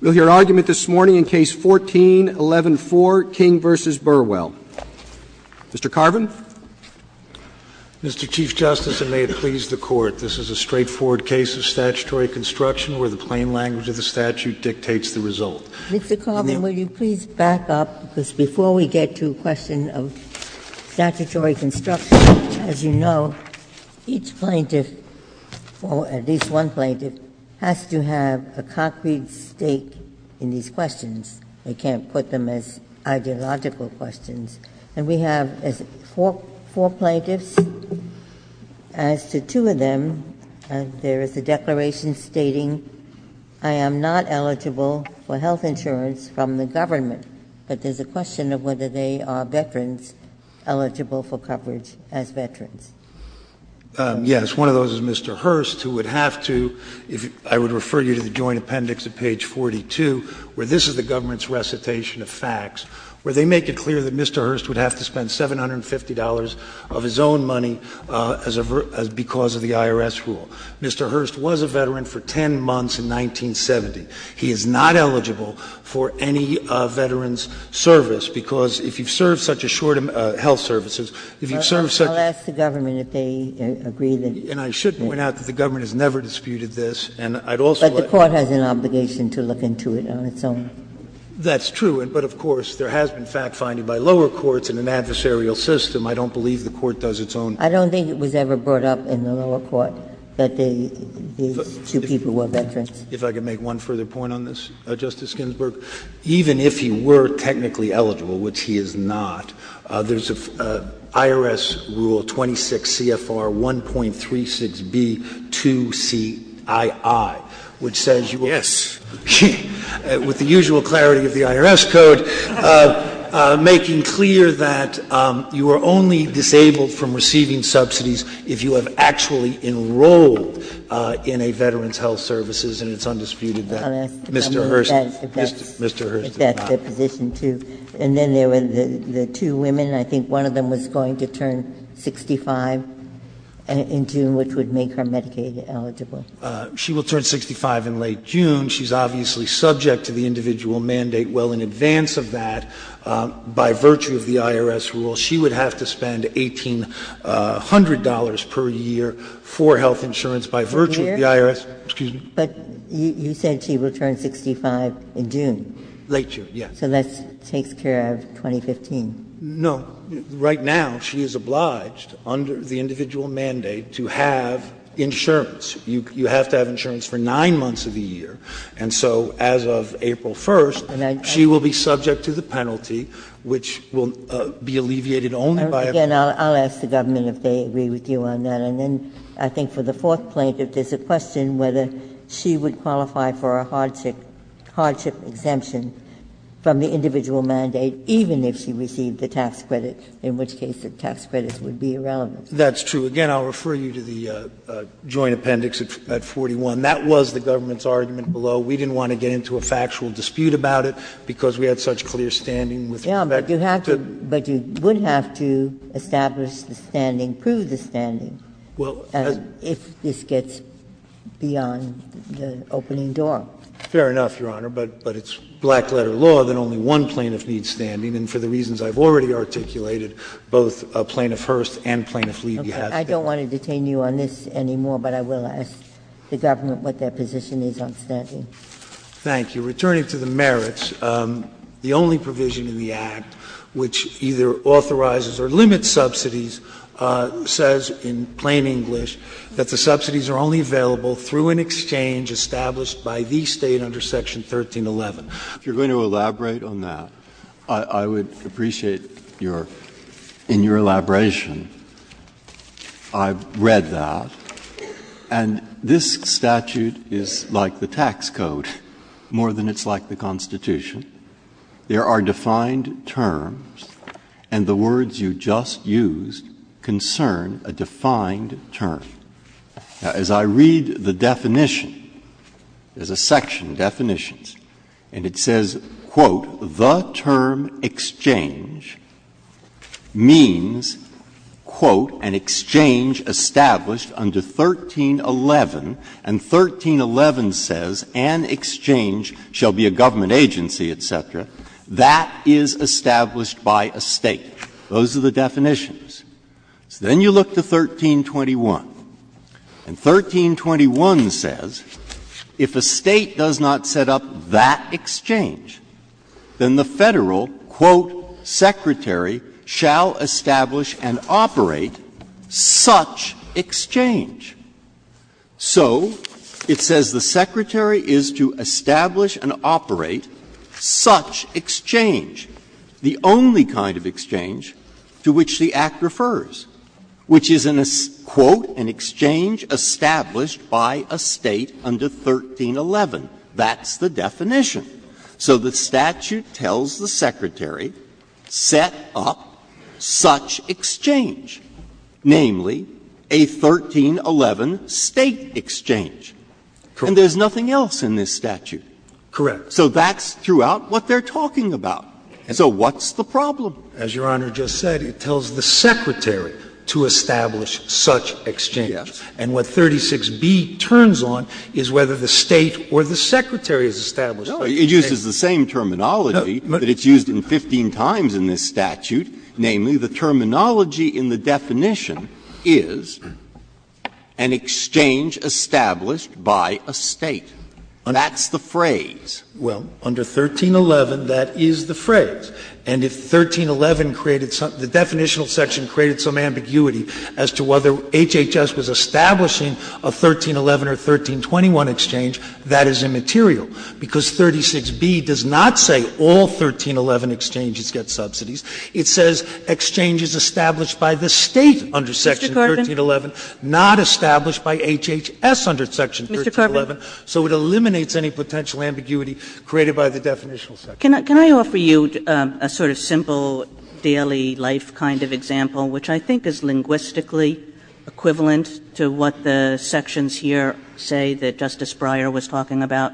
We'll hear an argument this morning in Case 14-11-4, King v. Burwell. Mr. Carvin? Mr. Chief Justice, and may it please the Court, this is a straightforward case of statutory construction where the claim language of a statute dictates the result. Mr. Carvin, will you please back up? Because before we get to the question of statutory construction, as you know, each plaintiff, or at least one plaintiff, has to have a concrete stake in these questions. They can't put them as ideological questions. And we have four plaintiffs. As to two of them, there is a declaration stating, I am not eligible for health insurance from the government. But there's a question of whether they are veterans eligible for coverage as veterans. Yes, one of those is Mr. Hurst, who would have to, I would refer you to the Joint Appendix at page 42, where this is the government's recitation of facts, where they make it clear that Mr. Hurst would have to spend $750 of his own money because of the IRS rule. Mr. Hurst was a veteran for 10 months in 1970. He is not eligible for any veterans' service because if you serve such a short amount of health services, if you serve such a short amount of health services, I'll ask the government if they agree that. And I should point out that the government has never disputed this, and I'd also like to. But the Court has an obligation to look into it on its own. That's true. But, of course, there has been fact-finding by lower courts in an adversarial system. I don't believe the Court does its own. I don't think it was ever brought up in the lower court that these two people were veterans. If I could make one further point on this, Justice Ginsburg. Even if you were technically eligible, which he is not, there's an IRS Rule 26 CFR 1.36B2CII, which says you were. Yes. With the usual clarity of the IRS code, making clear that you are only disabled from receiving subsidies if you have actually enrolled in a veteran's health services, and it's undisputed that Mr. Hurst is not. And then there were the two women. I think one of them was going to turn 65 in June, which would make her Medicaid eligible. She will turn 65 in late June. She's obviously subject to the individual mandate. Well, in advance of that, by virtue of the IRS Rule, she would have to spend $1,800 per year for health insurance by virtue of the IRS. Excuse me. But you said she would turn 65 in June. Late June, yes. So that takes care of 2015. No. Right now, she is obliged under the individual mandate to have insurance. You have to have insurance for nine months of the year. And so as of April 1st, she will be subject to the penalty, which will be alleviated only by a fee. Again, I'll ask the government if they agree with you on that. And then I think for the fourth plaintiff, there's a question whether she would qualify for a hardship exemption from the individual mandate, even if she received the tax credits, in which case the tax credits would be irrelevant. That's true. Again, I'll refer you to the Joint Appendix at 41. That was the government's argument below. We didn't want to get into a factual dispute about it because we had such clear standing with respect to the statute. But you would have to establish the standing, prove the standing, if this gets beyond the opening door. Fair enough, Your Honor. But it's black-letter law that only one plaintiff needs standing. And for the reasons I've already articulated, both Plaintiff Hearst and Plaintiff Levy have standing. Okay. I don't want to detain you on this anymore, but I will ask the government what their position is on standing. Thank you. Returning to the merits, the only provision in the Act which either authorizes or limits subsidies says, in plain English, that the subsidies are only available through an exchange established by the State under Section 1311. If you're going to elaborate on that, I would appreciate your — in your elaboration. I've read that. And this statute is like the tax code more than it's like the Constitution. There are defined terms, and the words you just used concern a defined term. Now, as I read the definition, there's a section, definitions, and it says, quote, the term exchange means, quote, an exchange established under 1311. And 1311 says, an exchange shall be a government agency, et cetera. That is established by a State. Those are the definitions. Then you look to 1321. And 1321 says, if a State does not set up that exchange, then the Federal, quote, secretary shall establish and operate such exchange. So it says the secretary is to establish and operate such exchange, the only kind of exchange to which the Act refers, which is, quote, an exchange established by a State under 1311. That's the definition. So the statute tells the secretary, set up such exchange, namely, a 1311 State exchange. And there's nothing else in this statute. Correct. So that's throughout what they're talking about. And so what's the problem? As Your Honor just said, it tells the secretary to establish such exchange. And what 36B turns on is whether the State or the secretary has established such exchange. It uses the same terminology, but it's used 15 times in this statute. Namely, the terminology in the definition is an exchange established by a State. That's the phrase. Well, under 1311, that is the phrase. And if 1311 created something, the definitional section created some ambiguity as to whether HHS was establishing a 1311 or 1321 exchange, that is immaterial. Because 36B does not say all 1311 exchanges get subsidies. It says exchange is established by the State under section 1311, not established by HHS under section 1311. So it eliminates any potential ambiguity created by the definitional section. Can I offer you a sort of simple daily life kind of example, which I think is linguistically equivalent to what the sections here say that Justice Breyer was talking about?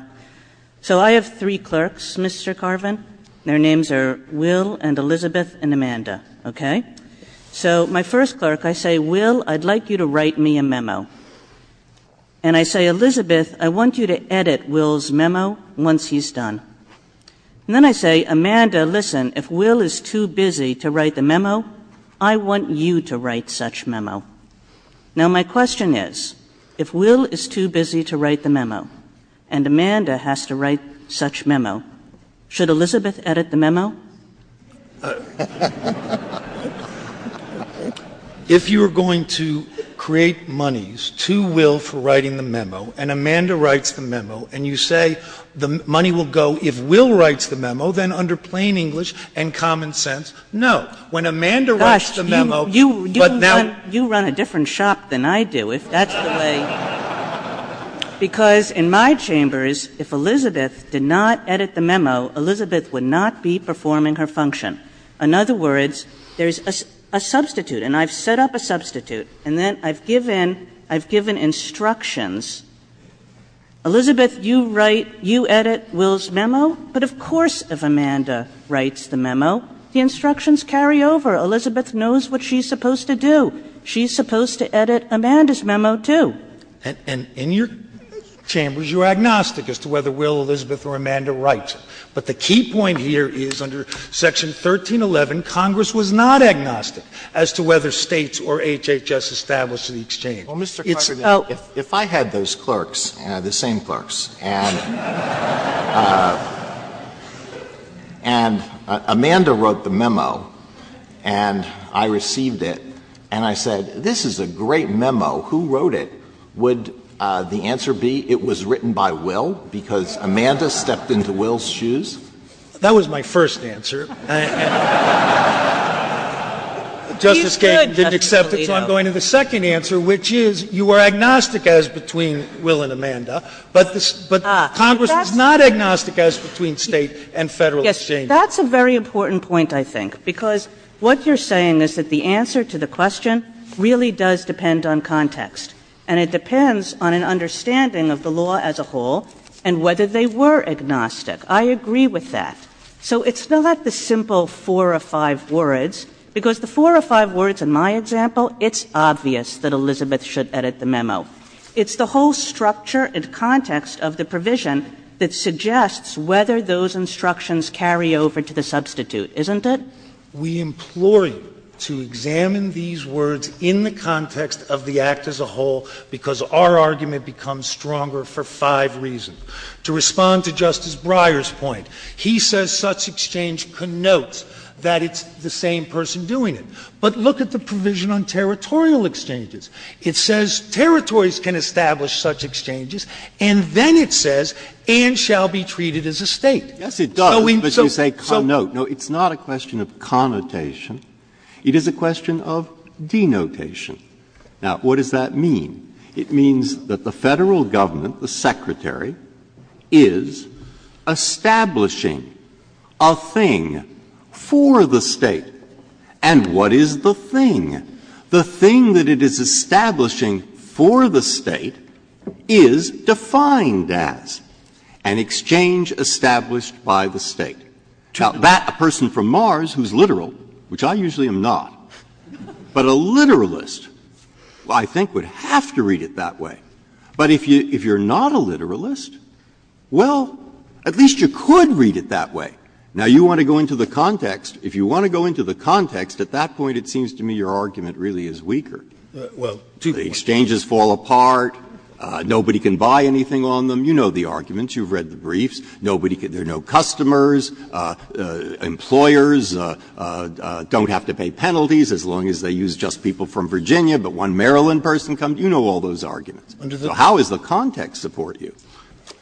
So I have three clerks, Mr. Carvin. Their names are Will and Elizabeth and Amanda, okay? So my first clerk, I say, Will, I'd like you to write me a memo. And I say, Elizabeth, I want you to edit Will's memo once he's done. And then I say, Amanda, listen, if Will is too busy to write the memo, I want you to write such memo. Now, my question is, if Will is too busy to write the memo and Amanda has to write such memo, should Elizabeth edit the memo? If you're going to create monies to Will for writing the memo and Amanda writes the memo and you say the money will go, if Will writes the memo, then under plain English and common sense, no. When Amanda writes the memo, but now- You run a different shop than I do, if that's the way. Because in my chambers, if Elizabeth did not edit the memo, Elizabeth would not be performing her function. In other words, there's a substitute, and I've set up a substitute, and then I've given instructions. Elizabeth, you write, you edit Will's memo, but of course if Amanda writes the memo, the instructions carry over. Elizabeth knows what she's supposed to do. She's supposed to edit Amanda's memo, too. And in your chambers, you're agnostic as to whether Will, Elizabeth, or Amanda writes it. But the key point here is under Section 1311, Congress was not agnostic as to whether states or HHS established an exchange. If I had those clerks, the same clerks, and Amanda wrote the memo, and I received it, and I said, this is a great memo, who wrote it? Would the answer be it was written by Will because Amanda stepped into Will's shoes? That was my first answer. Justice Gantson didn't accept it, so I'm going to the second answer, which is you were agnostic as between Will and Amanda, but Congress was not agnostic as between states and federal exchanges. That's a very important point, I think, because what you're saying is that the answer to the question really does depend on context, and it depends on an understanding of the law as a whole and whether they were agnostic. I agree with that. So it's not like the simple four or five words, because the four or five words in my example, it's obvious that Elizabeth should edit the memo. It's the whole structure and context of the provision that suggests whether those instructions carry over to the substitute, isn't it? We implore you to examine these words in the context of the act as a whole because our argument becomes stronger for five reasons. To respond to Justice Breyer's point, he says such exchange connotes that it's the same person doing it. But look at the provision on territorial exchanges. It says territories can establish such exchanges, and then it says and shall be treated as a state. Yes, it does, but you say connote. No, it's not a question of connotation. It is a question of denotation. Now, what does that mean? It means that the federal government, the secretary, is establishing a thing for the state. And what is the thing? The thing that it is establishing for the state is defined as an exchange established by the state. Now, that person from Mars who's literal, which I usually am not, but a literalist, I think, would have to read it that way. But if you're not a literalist, well, at least you could read it that way. Now, you want to go into the context. If you want to go into the context, at that point, it seems to me your argument really is weaker. Well, the exchanges fall apart. Nobody can buy anything on them. You know the arguments. You've read the briefs. There are no customers. Employers don't have to pay penalties as long as they use just people from Virginia, but one Maryland person comes. You know all those arguments. So how does the context support you?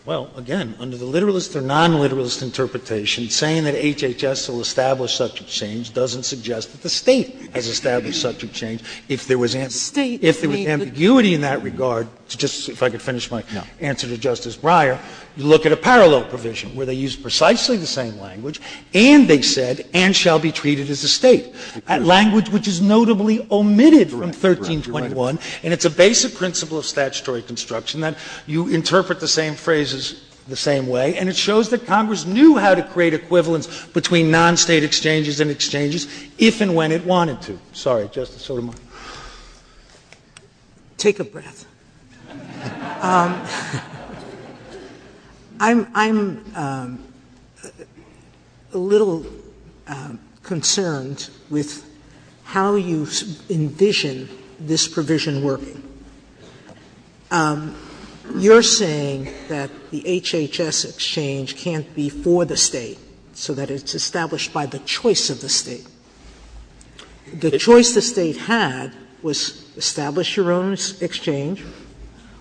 Well, again, under the literalist or non-literalist interpretation, saying that HHS will establish subject change doesn't suggest that the state has established subject change. If there was ambiguity in that regard, just if I could finish my answer to Justice Breyer, look at a parallel provision where they use precisely the same language, and they said, and shall be treated as a state, a language which is notably omitted from 13.1. And it's a basic principle of statutory construction that you interpret the same phrases the same way, and it shows that Congress knew how to create equivalence between non-state exchanges and exchanges if and when it wanted to. Sorry, Justice Sotomayor. Take a breath. I'm a little concerned with how you envision this provision working. You're saying that the HHS exchange can't be for the state, so that it's established by the choice of the state. The choice the state had was establish your own exchange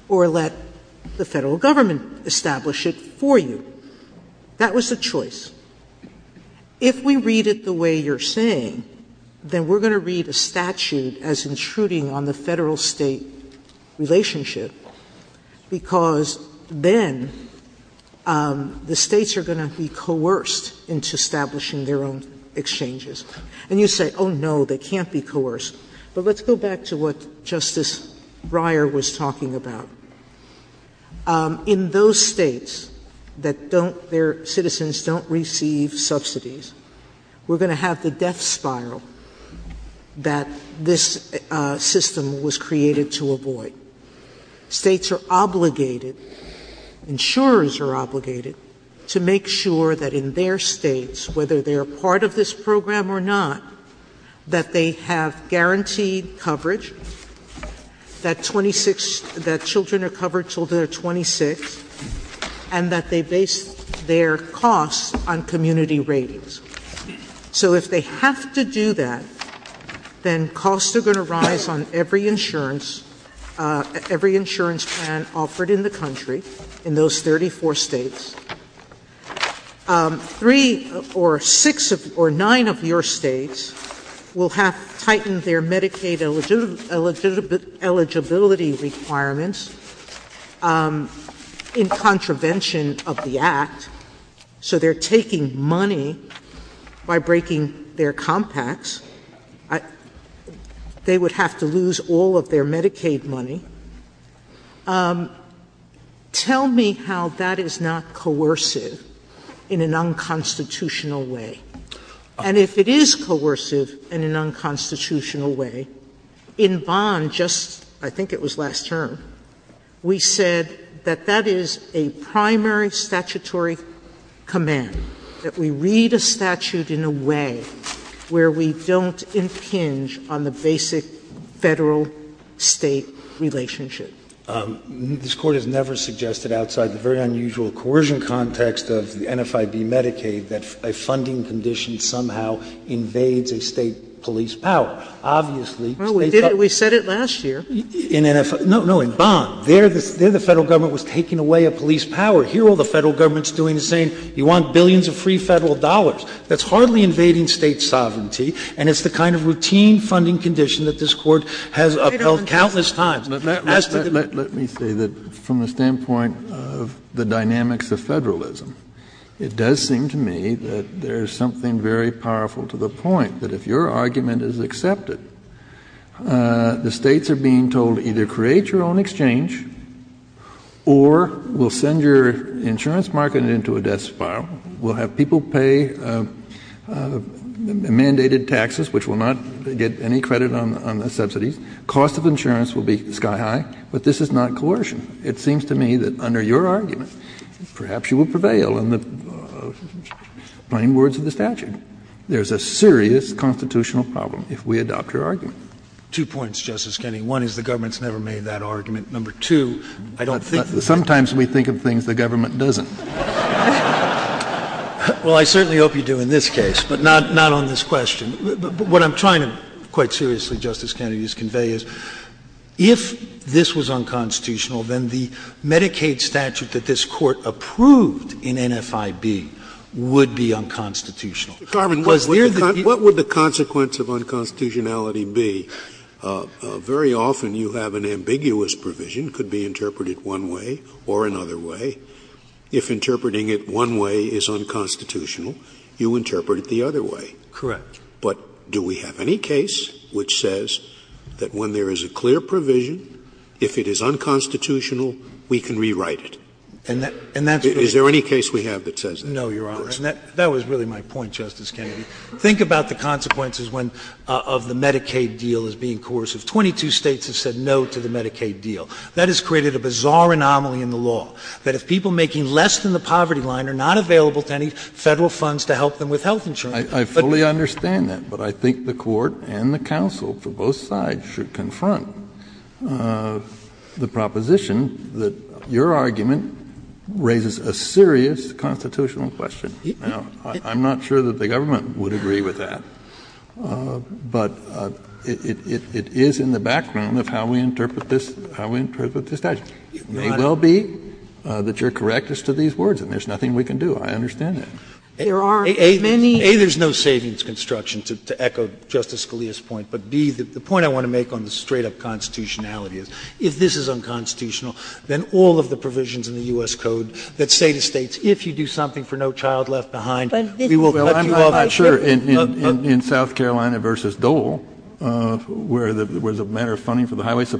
or let the federal government establish it for you. That was the choice. If we read it the way you're saying, then we're going to read a statute as intruding on the federal-state relationship, because then the states are going to be coerced into establishing their own exchanges. And you say, oh, no, they can't be coerced. But let's go back to what Justice Breyer was talking about. In those states that their citizens don't receive subsidies, we're going to have the death spiral that this system was created to avoid. States are obligated, insurers are obligated, to make sure that in their states, whether they're part of this program or not, that they have guaranteed coverage, that children are covered until they're 26, and that they base their costs on community ratings. So if they have to do that, then costs are going to rise on every insurance plan offered in the country, in those 34 states. Three or six or nine of your states will have tightened their Medicaid eligibility requirements in contravention of the Act. So they're taking money by breaking their compacts. They would have to lose all of their Medicaid money. Tell me how that is not coercive in an unconstitutional way. And if it is coercive in an unconstitutional way, in Bond, just, I think it was last term, we said that that is a primary statutory command, that we read a statute in a way where we don't impinge on the basic federal-state relationship. This Court has never suggested outside the very unusual coercion context of the NFID Medicaid that a funding condition somehow invades a state police power. Obviously... We said it last year. No, no, in Bond. There the federal government was taking away a police power. Here all the federal government's doing is saying, we want billions of free federal dollars. That's hardly invading state sovereignty, and it's the kind of routine funding condition that this Court has upheld countless times. Let me say that from the standpoint of the dynamics of federalism, it does seem to me that there is something very powerful to the point that if your argument is accepted, the states are being told to either create your own exchange or we'll send your insurance market into a death's file. We'll have people pay mandated taxes, which will not get any credit on the subsidy. Cost of insurance will be sky high, but this is not coercion. It seems to me that under your argument, perhaps you will prevail in the plain words of the statute. There's a serious constitutional problem if we adopt your argument. Two points, Justice Kennedy. One is the government's never made that argument. Number two, I don't think... Sometimes we think of things the government doesn't. Well, I certainly hope you do in this case, but not on this question. What I'm trying to quite seriously, Justice Kennedy, convey is if this was unconstitutional, then the Medicaid statute that this Court approved in NFIB would be unconstitutional. What would the consequence of unconstitutionality be? Very often you have an ambiguous provision, could be interpreted one way or another way. If interpreting it one way is unconstitutional, you interpret it the other way. Correct. But do we have any case which says that when there is a clear provision, if it is unconstitutional, we can rewrite it? Is there any case we have that says that? No, Your Honor. That was really my point, Justice Kennedy. Think about the consequences of the Medicaid deal as being coercive. Twenty-two states have said no to the Medicaid deal. That has created a bizarre anomaly in the law, that if people making less than the poverty line are not available to any federal funds to help them with health insurance... I fully understand that, but I think the Court and the counsel for both sides should confront the proposition that your argument raises a serious constitutional question. Now, I'm not sure that the government would agree with that, but it is in the background of how we interpret this statute. It may well be that you're correct as to these words, and there's nothing we can do. I understand that. A, there's no savings construction, to echo Justice Scalia's point. But B, the point I want to make on the straight-up constitutionality is if this is unconstitutional, then all of the provisions in the U.S. Code that say to states, if you do something for no child left behind, we will cut you off. In South Carolina v. Dole, where there was a matter of funding for the highways,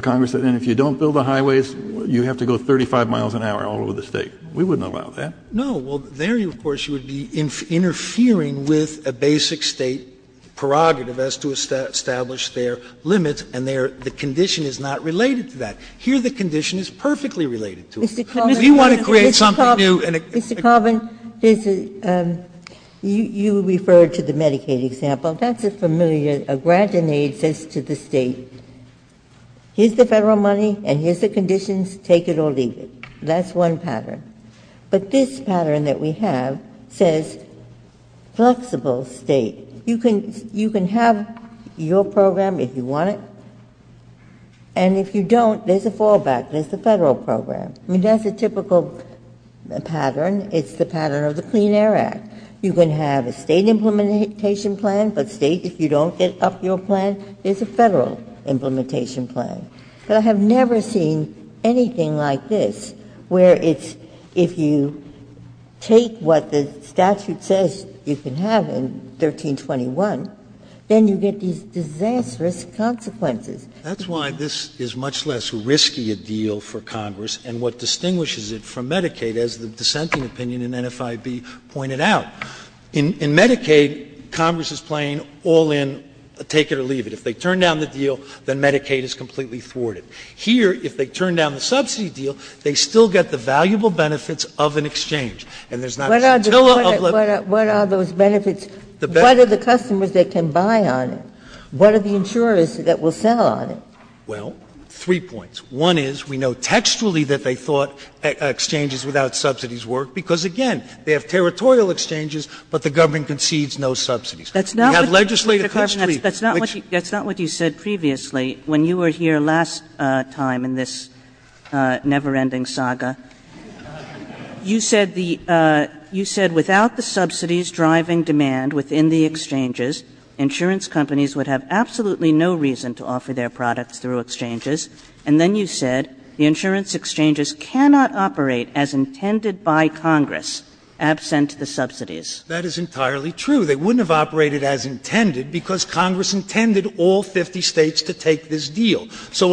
Congress said, if you don't build the highways, you have to go 35 miles an hour all over the state. We wouldn't allow that. No, well, there, of course, you would be interfering with a basic state prerogative as to establish their limits, and the condition is not related to that. Here, the condition is perfectly related to it. Mr. Carvin, you referred to the Medicaid example. That's just familiar. A grantor made says to the state, here's the Federal money and here's the conditions. Take it or leave it. That's one pattern. But this pattern that we have says flexible state. You can have your program if you want it, and if you don't, there's a fallback. There's a Federal program. I mean, that's a typical pattern. It's the pattern of the Clean Air Act. You can have a state implementation plan, but state, if you don't, it's up to your plan. There's a Federal implementation plan. So I have never seen anything like this, where it's if you take what the statute says you can have in 1321, then you get these disastrous consequences. That's why this is much less risky a deal for Congress and what distinguishes it from Medicaid, as the dissenting opinion in NFIB pointed out. In Medicaid, Congress is playing all in, take it or leave it. If they turn down the deal, then Medicaid is completely thwarted. Here, if they turn down the subsidy deal, they still get the valuable benefits of an exchange. What are those benefits? What are the customers that can buy on it? What are the insurers that will sell on it? Well, three points. One is we know textually that they thought exchanges without subsidies work because, again, they have territorial exchanges, but the government concedes no subsidies. That's not what you said previously when you were here last time in this never-ending saga. You said without the subsidies driving demand within the exchanges, insurance companies would have absolutely no reason to offer their products through exchanges, and then you said the insurance exchanges cannot operate as intended by Congress, absent the subsidies. That is entirely true. They wouldn't have operated as intended because Congress intended all 50 states to take this deal. So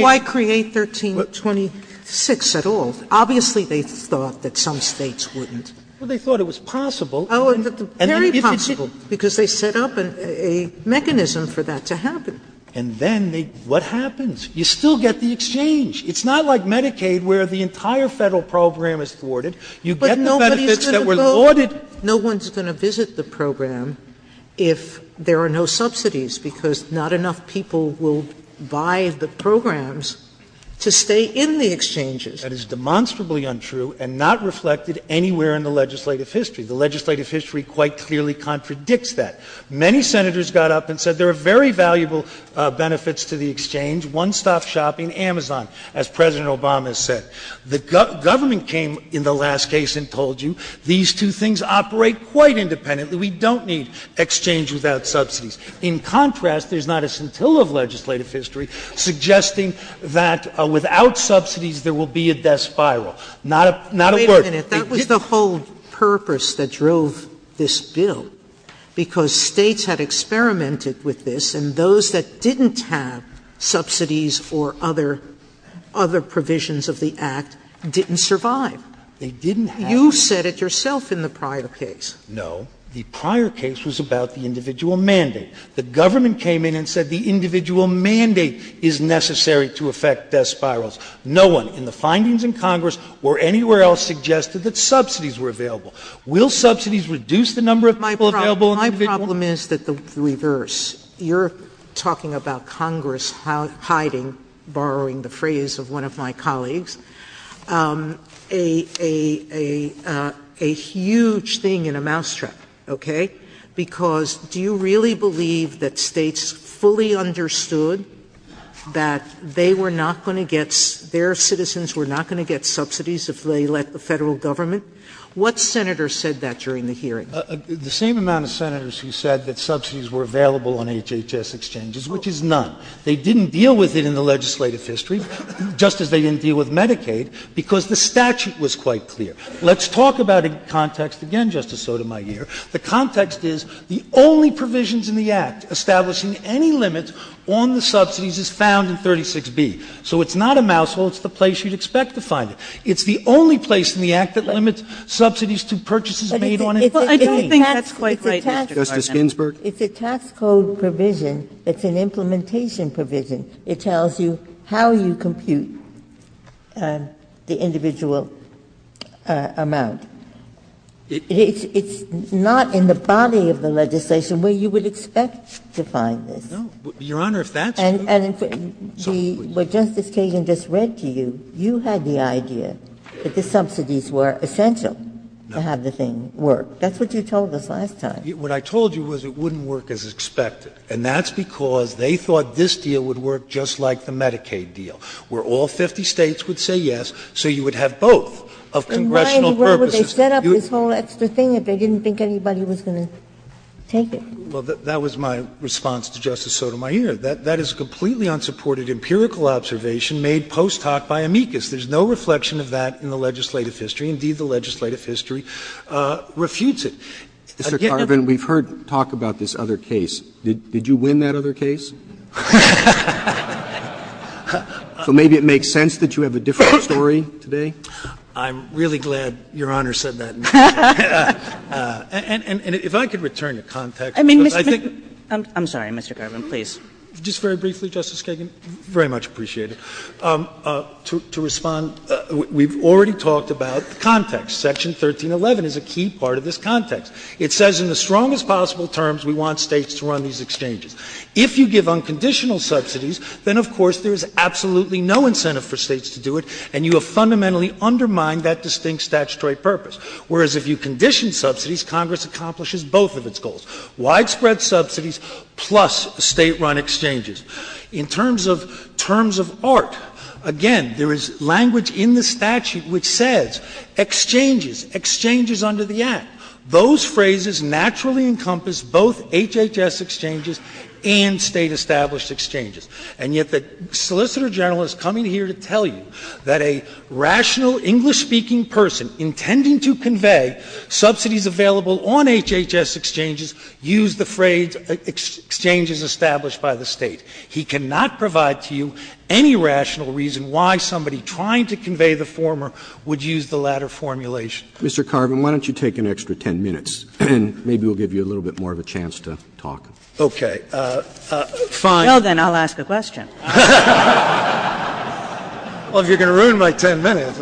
why create 1326 at all? Obviously they thought that some states wouldn't. Well, they thought it was possible. Very possible because they set up a mechanism for that to happen. And then what happens? You still get the exchange. It's not like Medicaid where the entire federal program is thwarted. You get the benefits that were thwarted. No one's going to visit the program if there are no subsidies because not enough people will buy the programs to stay in the exchanges. That is demonstrably untrue and not reflected anywhere in the legislative history. The legislative history quite clearly contradicts that. Many senators got up and said there are very valuable benefits to the exchange, one-stop shopping, Amazon, as President Obama said. The government came in the last case and told you these two things operate quite independently. We don't need exchange without subsidies. In contrast, there's not a scintilla of legislative history suggesting that without subsidies there will be a death spiral. Not at work. Wait a minute. That was the whole purpose that drove this bill because states had experimented with this and those that didn't have subsidies or other provisions of the Act didn't survive. They didn't have it. You said it yourself in the prior case. No. The prior case was about the individual mandate. The government came in and said the individual mandate is necessary to affect death spirals. No one in the findings in Congress or anywhere else suggested that subsidies were available. Will subsidies reduce the number of people available? My problem is the reverse. You're talking about Congress hiding, borrowing the phrase of one of my colleagues, a huge thing in a mousetrap, okay? Because do you really believe that states fully understood that their citizens were not going to get subsidies if they let the federal government? What senators said that during the hearing? The same amount of senators who said that subsidies were available on HHS exchanges, which is none. They didn't deal with it in the legislative history just as they didn't deal with Medicaid because the statute was quite clear. Let's talk about the context again, Justice Sotomayor. The context is the only provisions in the Act establishing any limits on the subsidies is found in 36B. So it's not a mousetrap. It's the place you'd expect to find it. It's the only place in the Act that limits subsidies to purchases made on it. I don't think that's quite right, Justice Ginsburg. It's a tax code provision. It's an implementation provision. It tells you how you compute the individual amount. It's not in the body of the legislation where you would expect to find this. No. Your Honor, if that's true. And what Justice Kagan just read to you, you had the idea that the subsidies were essential to have the thing work. That's what you told us last time. What I told you was it wouldn't work as expected. And that's because they thought this deal would work just like the Medicaid deal, where all 50 States would say yes so you would have both of congressional purposes. And why in the world would they set up this whole extra thing if they didn't think anybody was going to take it? Well, that was my response to Justice Sotomayor. That is a completely unsupported empirical observation made post hoc by amicus. There's no reflection of that in the legislative history. Indeed, the legislative history refutes it. Mr. Carvin, we've heard talk about this other case. Did you win that other case? So maybe it makes sense that you have a different story today. I'm really glad Your Honor said that. And if I could return to context. I'm sorry, Mr. Carvin, please. Just very briefly, Justice Kagan, very much appreciated. We've already talked about context. Section 1311 is a key part of this context. It says in the strongest possible terms we want States to run these exchanges. If you give unconditional subsidies, then of course there's absolutely no incentive for States to do it, and you have fundamentally undermined that distinct statutory purpose. Whereas if you condition subsidies, Congress accomplishes both of its goals. Widespread subsidies plus State-run exchanges. In terms of art, again, there is language in the statute which says exchanges, exchanges under the act. Those phrases naturally encompass both HHS exchanges and State-established exchanges. And yet the solicitor general is coming here to tell you that a rational English-speaking person intending to convey subsidies available on HHS exchanges used the phrase exchanges established by the State. He cannot provide to you any rational reason why somebody trying to convey the former would use the latter formulation. Mr. Carvin, why don't you take an extra ten minutes, and maybe we'll give you a little bit more of a chance to talk. Okay. Fine. Well, then I'll ask a question. Well, you're going to ruin my ten minutes.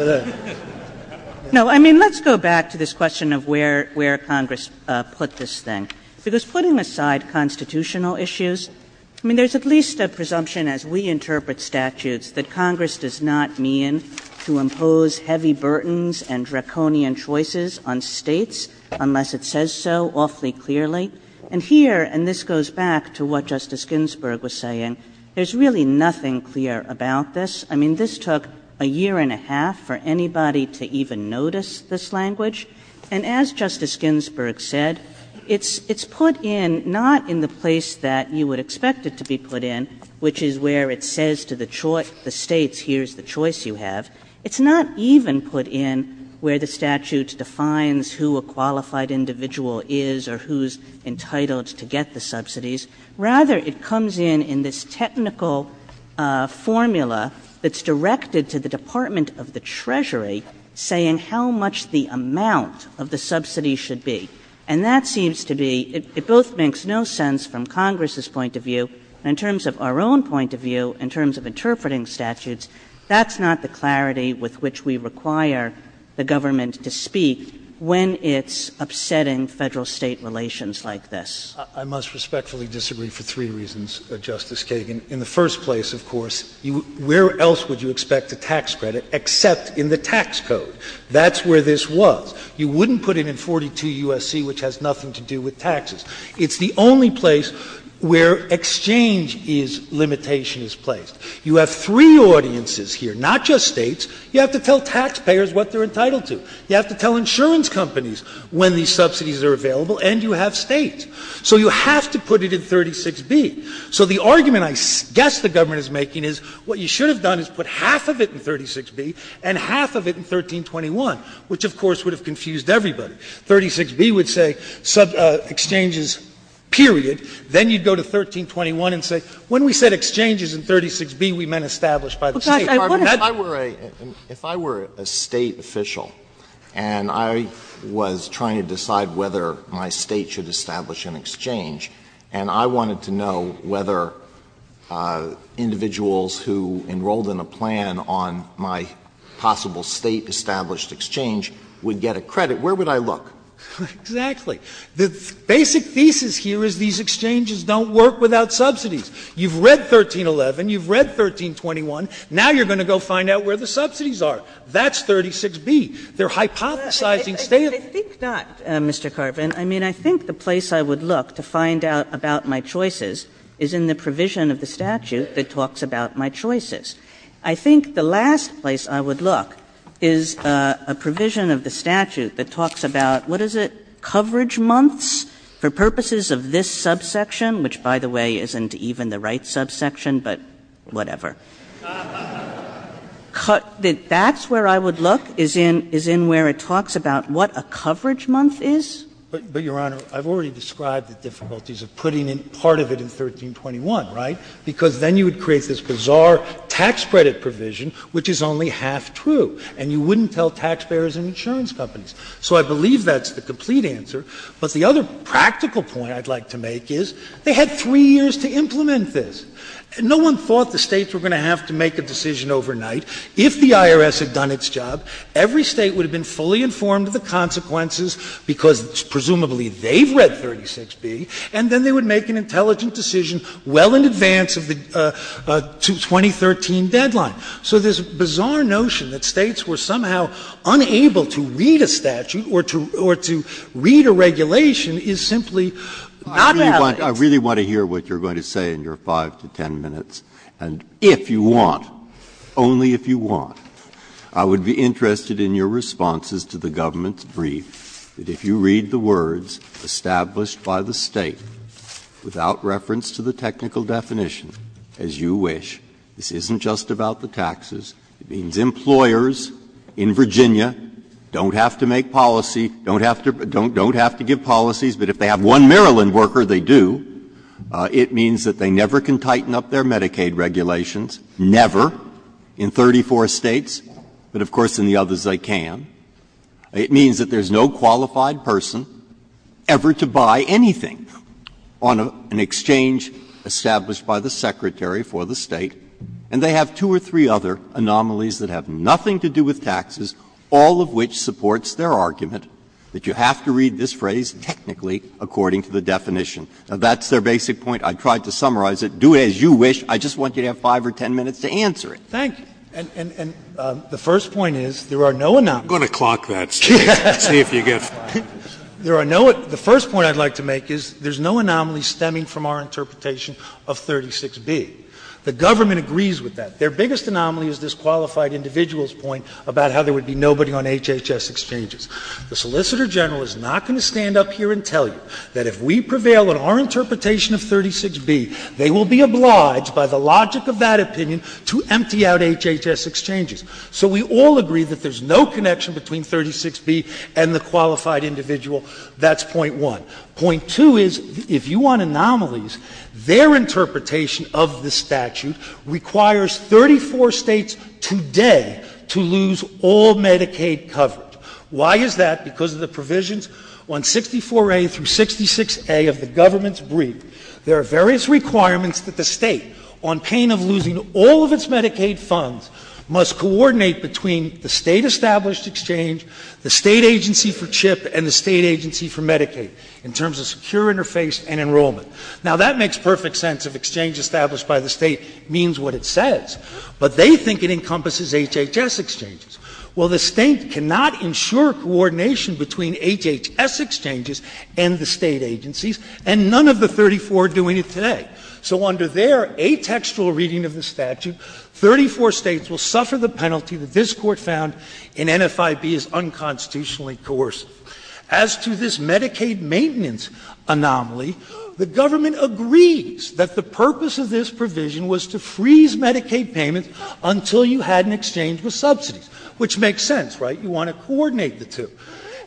No, I mean, let's go back to this question of where Congress put this thing. Because putting aside constitutional issues, I mean, there's at least a presumption as we interpret statutes that Congress does not mean to impose heavy burdens and draconian choices on States unless it says so awfully clearly. And here, and this goes back to what Justice Ginsburg was saying, there's really nothing clear about this. I mean, this took a year and a half for anybody to even notice this language. And as Justice Ginsburg said, it's put in not in the place that you would expect it to be put in, which is where it says to the States, here's the choice you have. It's not even put in where the statute defines who a qualified individual is or who's entitled to get the subsidies. Rather, it comes in in this technical formula that's directed to the Department of the Treasury saying how much the amount of the subsidy should be. And that seems to be — it both makes no sense from Congress's point of view and in terms of our own point of view, in terms of interpreting statutes. That's not the clarity with which we require the government to speak when it's upsetting federal-state relations like this. I must respectfully disagree for three reasons, Justice Kagan. In the first place, of course, where else would you expect a tax credit except in the tax code? That's where this was. You wouldn't put it in 42 U.S.C., which has nothing to do with taxes. It's the only place where exchange is — limitation is placed. You have three audiences here, not just States. You have to tell taxpayers what they're entitled to. You have to tell insurance companies when these subsidies are available. And you have States. So you have to put it in 36B. So the argument I guess the government is making is what you should have done is put half of it in 36B and half of it in 1321, which, of course, would have confused everybody. 36B would say exchanges, period. Then you'd go to 1321 and say when we said exchanges in 36B, we meant established by the state. If I were a state official and I was trying to decide whether my state should establish an exchange, and I wanted to know whether individuals who enrolled in a plan on my possible state-established exchange would get a credit, where would I look? Exactly. The basic thesis here is these exchanges don't work without subsidies. You've read 1311. You've read 1321. Now you're going to go find out where the subsidies are. That's 36B. They're hypothesizing. I think that, Mr. Carvin. I mean, I think the place I would look to find out about my choices is in the provision of the statute that talks about my choices. I think the last place I would look is a provision of the statute that talks about, what is it, coverage months? For purposes of this subsection, which, by the way, isn't even the right subsection, but whatever. That's where I would look is in where it talks about what a coverage month is. But, Your Honor, I've already described the difficulties of putting in part of it in 1321, right? Because then you would create this bizarre tax credit provision, which is only half true. And you wouldn't tell taxpayers and insurance companies. So I believe that's the complete answer. But the other practical point I'd like to make is they had three years to implement this. No one thought the states were going to have to make a decision overnight. If the IRS had done its job, every state would have been fully informed of the consequences, because presumably they'd read 36B. And then they would make an intelligent decision well in advance of the 2013 deadline. So this bizarre notion that states were somehow unable to read a statute or to read a regulation is simply not valid. I really want to hear what you're going to say in your five to ten minutes. And if you want, only if you want, I would be interested in your responses to the government's brief, that if you read the words established by the state without reference to the technical definition, as you wish, this isn't just about the taxes, it means employers in Virginia don't have to make policy, don't have to give policies that if they have one Maryland worker, they do. It means that they never can tighten up their Medicaid regulations, never, in 34 states. But, of course, in the others they can. It means that there's no qualified person ever to buy anything on an exchange established by the secretary for the state. And they have two or three other anomalies that have nothing to do with taxes, all of which supports their argument that you have to read this phrase technically according to the definition. Now, that's their basic point. I tried to summarize it. Do it as you wish. I just want to have five or ten minutes to answer it. Thanks. And the first point is there are no anomalies. I'm going to clock that, see if you get it. There are no — the first point I'd like to make is there's no anomaly stemming from our interpretation of 36B. The government agrees with that. Their biggest anomaly is this qualified individual's point about how there would be nobody on HHS exchanges. The Solicitor General is not going to stand up here and tell you that if we prevail on our interpretation of 36B, they will be obliged by the logic of that opinion to empty out HHS exchanges. So we all agree that there's no connection between 36B and the qualified individual. That's point one. Point two is if you want anomalies, their interpretation of the statute requires 34 states today to lose all Medicaid coverage. Why is that? Because of the provisions on 64A through 66A of the government's brief. There are various requirements that the state, on pain of losing all of its Medicaid funds, must coordinate between the state-established exchange, the state agency for CHIP, and the state agency for Medicaid in terms of secure interface and enrollment. Now, that makes perfect sense if exchange established by the state means what it says, but they think it encompasses HHS exchanges. Well, the state cannot ensure coordination between HHS exchanges and the state agencies, and none of the 34 are doing it today. So under their atextual reading of the statute, 34 states will suffer the penalty that this court found in NFIB is unconstitutionally coercive. As to this Medicaid maintenance anomaly, the government agrees that the purpose of this provision was to freeze Medicaid payments until you had an exchange with subsidies, which makes sense, right? You want to coordinate the two.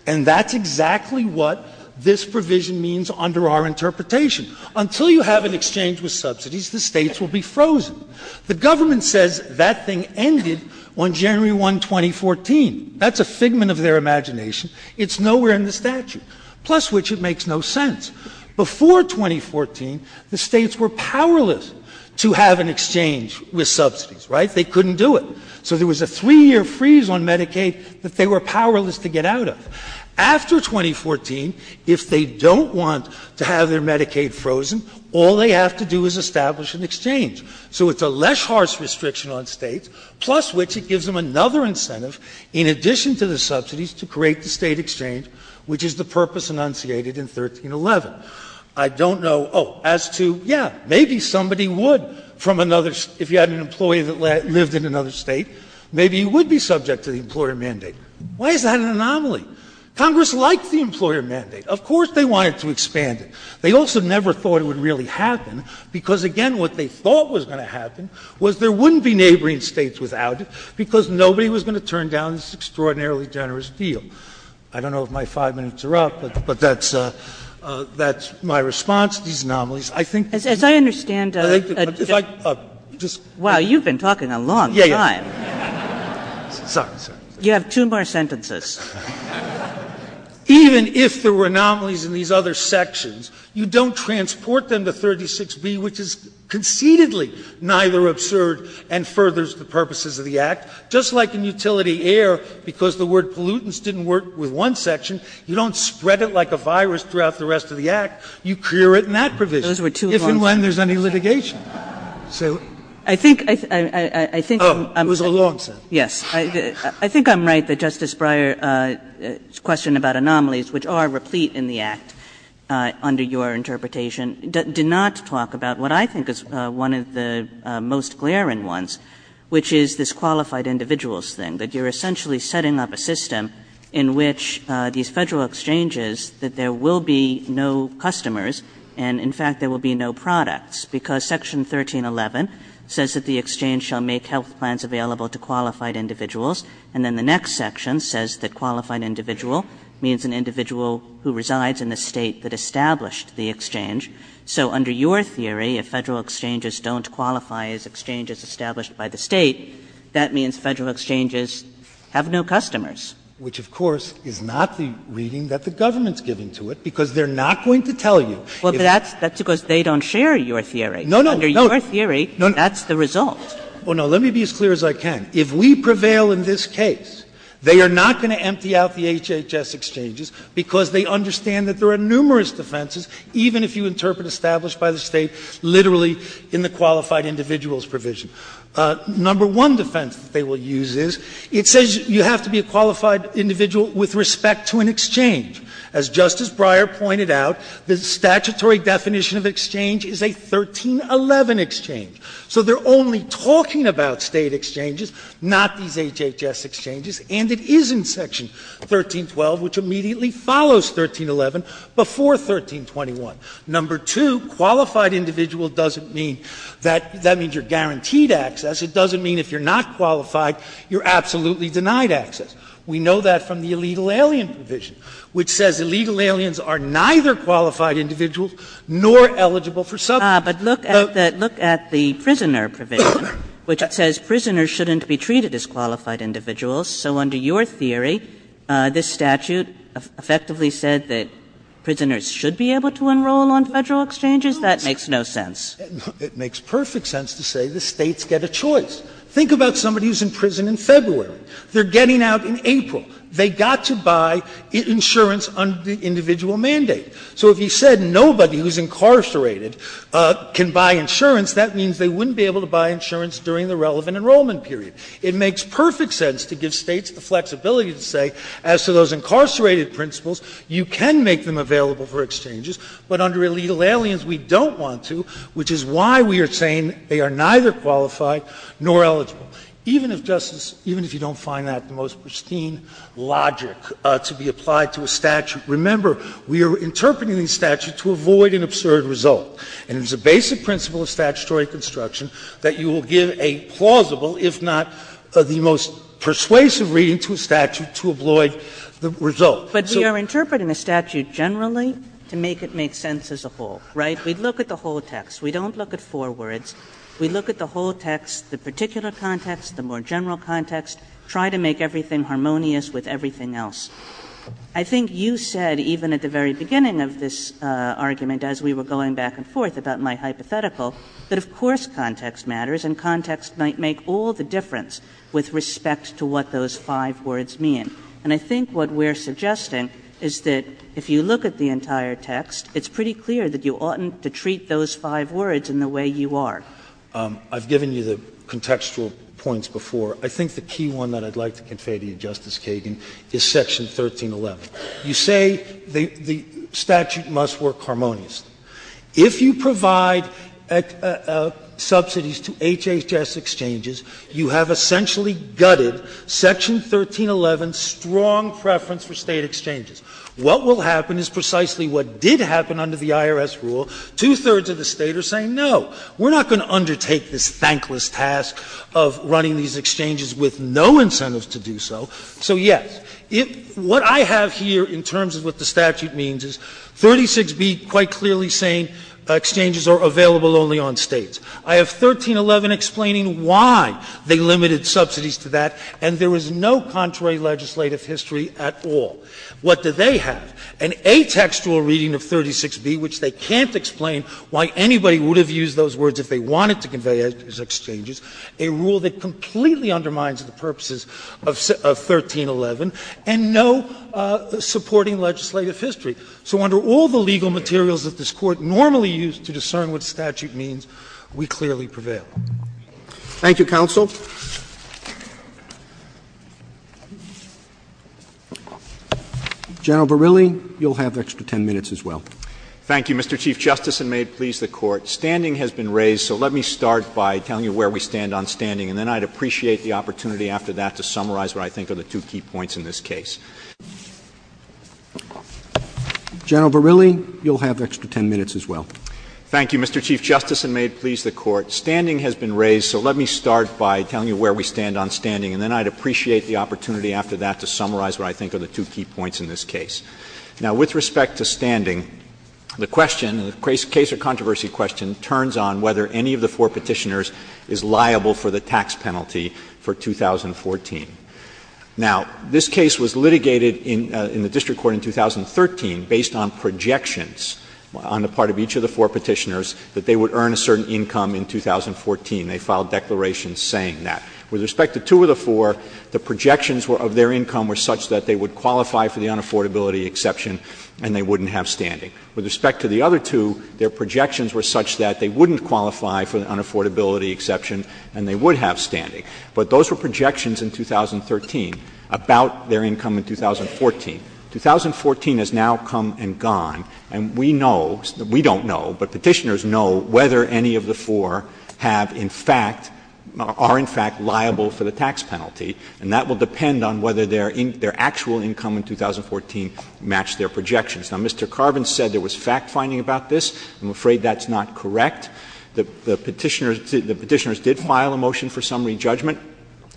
And that's exactly what this provision means under our interpretation. Until you have an exchange with subsidies, the states will be frozen. The government says that thing ended on January 1, 2014. That's a figment of their imagination. It's nowhere in the statute, plus which it makes no sense. Before 2014, the states were powerless to have an exchange with subsidies, right? They couldn't do it. So there was a three-year freeze on Medicaid that they were powerless to get out of. After 2014, if they don't want to have their Medicaid frozen, all they have to do is establish an exchange. So it's a less harsh restriction on states, plus which it gives them another incentive in addition to the subsidies to create the state exchange, which is the purpose enunciated in 1311. I don't know — oh, as to — yeah, maybe somebody would, from another — if you had an employee that lived in another state, maybe he would be subject to the employer mandate. Why is that an anomaly? Congress liked the employer mandate. Of course they wanted to expand it. They also never thought it would really happen because, again, what they thought was going to happen was there wouldn't be neighboring states without it because nobody was going to turn down this extraordinarily generous deal. I don't know if my five minutes are up, but that's my response to these anomalies. I think — As I understand — Wow, you've been talking a long time. Sorry. You have two more sentences. Even if there were anomalies in these other sections, you don't transport them to 36B, which is concededly neither absurd and furthers the purposes of the Act. Just like in utility air, because the word pollutants didn't work with one section, you don't spread it like a virus throughout the rest of the Act. You clear it in that provision, if and when there's any litigation. I think — It was a long sentence. Yes. I think I'm right that Justice Breyer's question about anomalies, which are replete in the Act under your interpretation, did not talk about what I think is one of the most glaring ones, which is this qualified individuals thing, that you're essentially setting up a system in which these federal exchanges, that there will be no customers and, in fact, there will be no products, because Section 1311 says that the exchange shall make health plans available to qualified individuals, and then the next section says that qualified individual means an individual who resides in the state that established the exchange. So under your theory, if federal exchanges don't qualify as exchanges established by the state, that means federal exchanges have no customers. Which, of course, is not the reading that the government's giving to it, because they're not going to tell you. Well, that's because they don't share your theory. No, no, no. Under your theory, that's the result. Well, no, let me be as clear as I can. If we prevail in this case, they are not going to empty out the HHS exchanges because they understand that there are numerous defenses, even if you interpret established by the state literally in the qualified individuals provision. Number one defense they will use is it says you have to be a qualified individual with respect to an exchange. As Justice Breyer pointed out, the statutory definition of exchange is a 1311 exchange. So they're only talking about state exchanges, not these HHS exchanges, and it is in Section 1312, which immediately follows 1311, before 1321. Number two, qualified individual doesn't mean that that means you're guaranteed access. It doesn't mean if you're not qualified, you're absolutely denied access. We know that from the illegal alien provision, which says illegal aliens are neither qualified individuals nor eligible for subpoena. But look at the prisoner provision, which says prisoners shouldn't be treated as qualified individuals. So under your theory, this statute effectively said that prisoners should be able to enroll on federal exchanges? That makes no sense. It makes perfect sense to say the states get a choice. Think about somebody who's in prison in February. They're getting out in April. They got to buy insurance under the individual mandate. So if you said nobody who's incarcerated can buy insurance, that means they wouldn't be able to buy insurance during the relevant enrollment period. It makes perfect sense to give states the flexibility to say as to those incarcerated principles, you can make them available for exchanges, but under illegal aliens we don't want to, which is why we are saying they are neither qualified nor eligible. So even if justice, even if you don't find that the most pristine logic to be applied to a statute, remember we are interpreting these statutes to avoid an absurd result. And it's a basic principle of statutory construction that you will give a plausible, if not the most persuasive reading to a statute to avoid the result. But we are interpreting the statute generally to make it make sense as a whole, right? We look at the whole text. We don't look at four words. We look at the whole text, the particular context, the more general context, try to make everything harmonious with everything else. I think you said even at the very beginning of this argument as we were going back and forth about my hypothetical that of course context matters and context might make all the difference with respect to what those five words mean. And I think what we're suggesting is that if you look at the entire text, it's pretty clear that you oughtn't to treat those five words in the way you are. I've given you the contextual points before. I think the key one that I'd like to convey to you, Justice Kagan, is Section 1311. You say the statute must work harmoniously. If you provide subsidies to HHS exchanges, you have essentially gutted Section 1311's strong preference for State exchanges. What will happen is precisely what did happen under the IRS rule. Two-thirds of the State are saying no. We're not going to undertake this thankless task of running these exchanges with no incentives to do so. So, yes, what I have here in terms of what the statute means is 36B quite clearly saying exchanges are available only on States. I have 1311 explaining why they limited subsidies to that, and there was no contrary legislative history at all. What did they have? An atextual reading of 36B, which they can't explain why anybody would have used those words if they wanted to convey it as exchanges, a rule that completely undermines the purposes of 1311, and no supporting legislative history. So under all the legal materials that this Court normally used to discern what statute means, we clearly prevail. Thank you, counsel. General Verrilli, you'll have extra 10 minutes as well. Thank you, Mr. Chief Justice, and may it please the Court, standing has been raised, so let me start by telling you where we stand on standing, and then I'd appreciate the opportunity after that to summarize what I think are the two key points in this case. General Verrilli, you'll have extra 10 minutes as well. Thank you, Mr. Chief Justice, and may it please the Court, standing has been raised, so let me start by telling you where we stand on standing, and then I'd appreciate the opportunity after that to summarize what I think are the two key points in this case. Now, with respect to standing, the question, the case of controversy question, turns on whether any of the four petitioners is liable for the tax penalty for 2014. Now, this case was litigated in the district court in 2013 based on projections on the part of each of the four petitioners that they would earn a certain income in 2014. They filed declarations saying that. With respect to two of the four, the projections of their income were such that they would qualify for the unaffordability exception and they wouldn't have standing. With respect to the other two, their projections were such that they wouldn't qualify for the unaffordability exception and they would have standing. But those were projections in 2013 about their income in 2014. 2014 has now come and gone, and we know, we don't know, but petitioners know whether any of the four have in fact or are in fact liable for the tax penalty, and that will depend on whether their actual income in 2014 matched their projections. Now, Mr. Carvin said there was fact-finding about this. I'm afraid that's not correct. The petitioners did file a motion for summary judgment,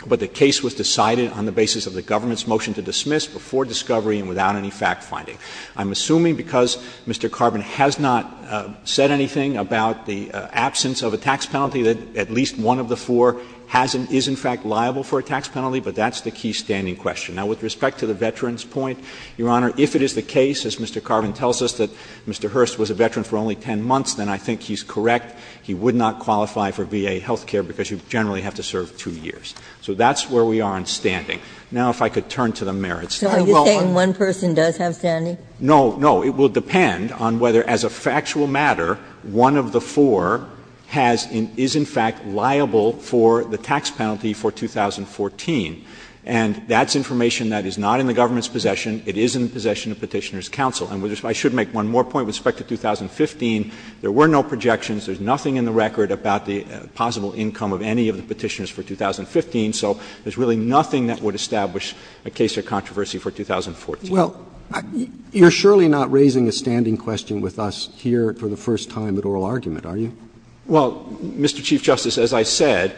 but the case was decided on the basis of the government's motion to dismiss before discovery and without any fact-finding. I'm assuming because Mr. Carvin has not said anything about the absence of a tax penalty, that at least one of the four is in fact liable for a tax penalty, but that's the key standing question. Now, with respect to the veteran's point, Your Honor, if it is the case, as Mr. Carvin tells us, that Mr. Hurst was a veteran for only 10 months, then I think he's correct. He would not qualify for VA health care because you generally have to serve two years. So that's where we are on standing. Now, if I could turn to the merits. Are you saying one person does have standing? No, no. It will depend on whether, as a factual matter, one of the four is in fact liable for the tax penalty for 2014. And that's information that is not in the government's possession. It is in the possession of Petitioners' Counsel. And I should make one more point with respect to 2015. There were no projections. There's nothing in the record about the possible income of any of the petitioners for 2015. So there's really nothing that would establish a case of controversy for 2014. Well, you're surely not raising a standing question with us here for the first time at oral argument, are you? Well, Mr. Chief Justice, as I said,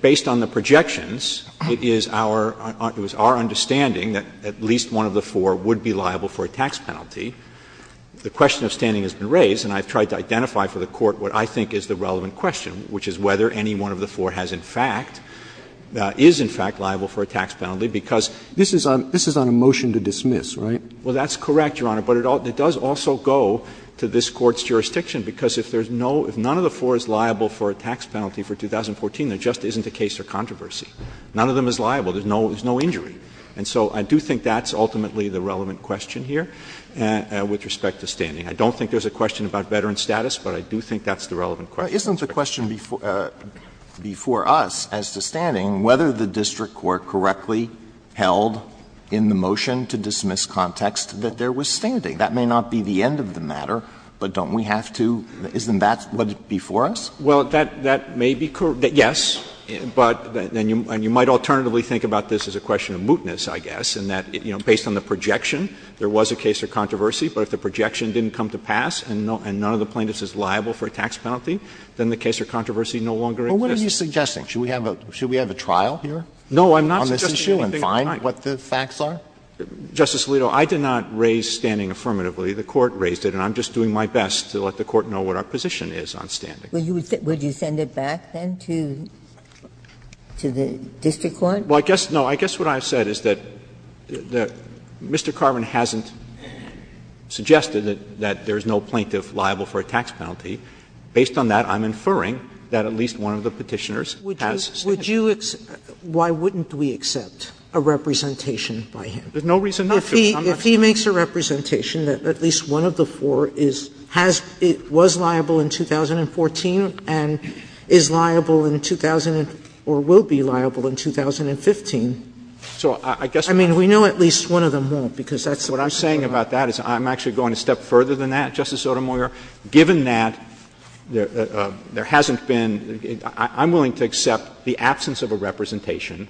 based on the projections, it is our understanding that at least one of the four would be liable for a tax penalty. The question of standing has been raised, and I've tried to identify for the Court what I think is the relevant question, which is whether any one of the four has in fact, is in fact liable for a tax penalty. Because this is on a motion to dismiss, right? Well, that's correct, Your Honor. But it does also go to this Court's jurisdiction, because if none of the four is liable for a tax penalty for 2014, there just isn't a case of controversy. None of them is liable. There's no injury. And so I do think that's ultimately the relevant question here with respect to standing. I don't think there's a question about veteran status, but I do think that's the relevant question. Isn't the question before us as to standing, whether the district court correctly held in the motion to dismiss context that there was standing? That may not be the end of the matter, but don't we have to — isn't that what's before us? Well, that may be correct, yes. But then you might alternatively think about this as a question of mootness, I guess, in that, you know, based on the projection, there was a case of controversy. But if the projection didn't come to pass and none of the plaintiffs is liable for a tax penalty, then the case of controversy no longer exists. Well, what are you suggesting? Should we have a trial here on this issue and find what the facts are? Justice Alito, I did not raise standing affirmatively. The Court raised it, and I'm just doing my best to let the Court know what our position is on standing. Would you send it back, then, to the district court? Well, I guess — no, I guess what I said is that Mr. Carvin hasn't suggested that there's no plaintiff liable for a tax penalty. Based on that, I'm inferring that at least one of the Petitioners has standing. Would you — why wouldn't we accept a representation by him? There's no reason not to. If he makes a representation that at least one of the four is — has — was liable in 2014 and is liable in — or will be liable in 2015 — So I guess — I mean, we know at least one of them won't, because that's what I'm saying. What you're saying about that is I'm actually going a step further than that, Justice Sotomayor. Given that, there hasn't been — I'm willing to accept the absence of a representation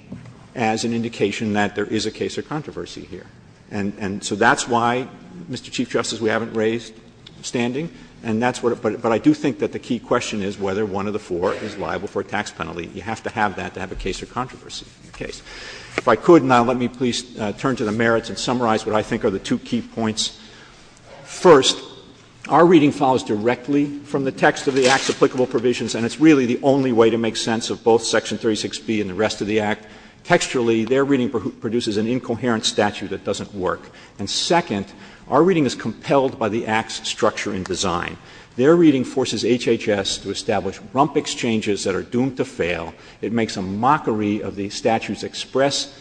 as an indication that there is a case of controversy here. And so that's why, Mr. Chief Justice, we haven't raised standing. And that's what — but I do think that the key question is whether one of the four is liable for a tax penalty. You have to have that to have a case of controversy. Okay. If I could now, let me please turn to the merits and summarize what I think are the two key points. First, our reading follows directly from the text of the Act's applicable provisions, and it's really the only way to make sense of both Section 36B and the rest of the Act. Texturally, their reading produces an incoherent statute that doesn't work. And second, our reading is compelled by the Act's structure and design. Their reading forces HHS to establish rump exchanges that are doomed to fail. It makes a mockery of the statute's expressed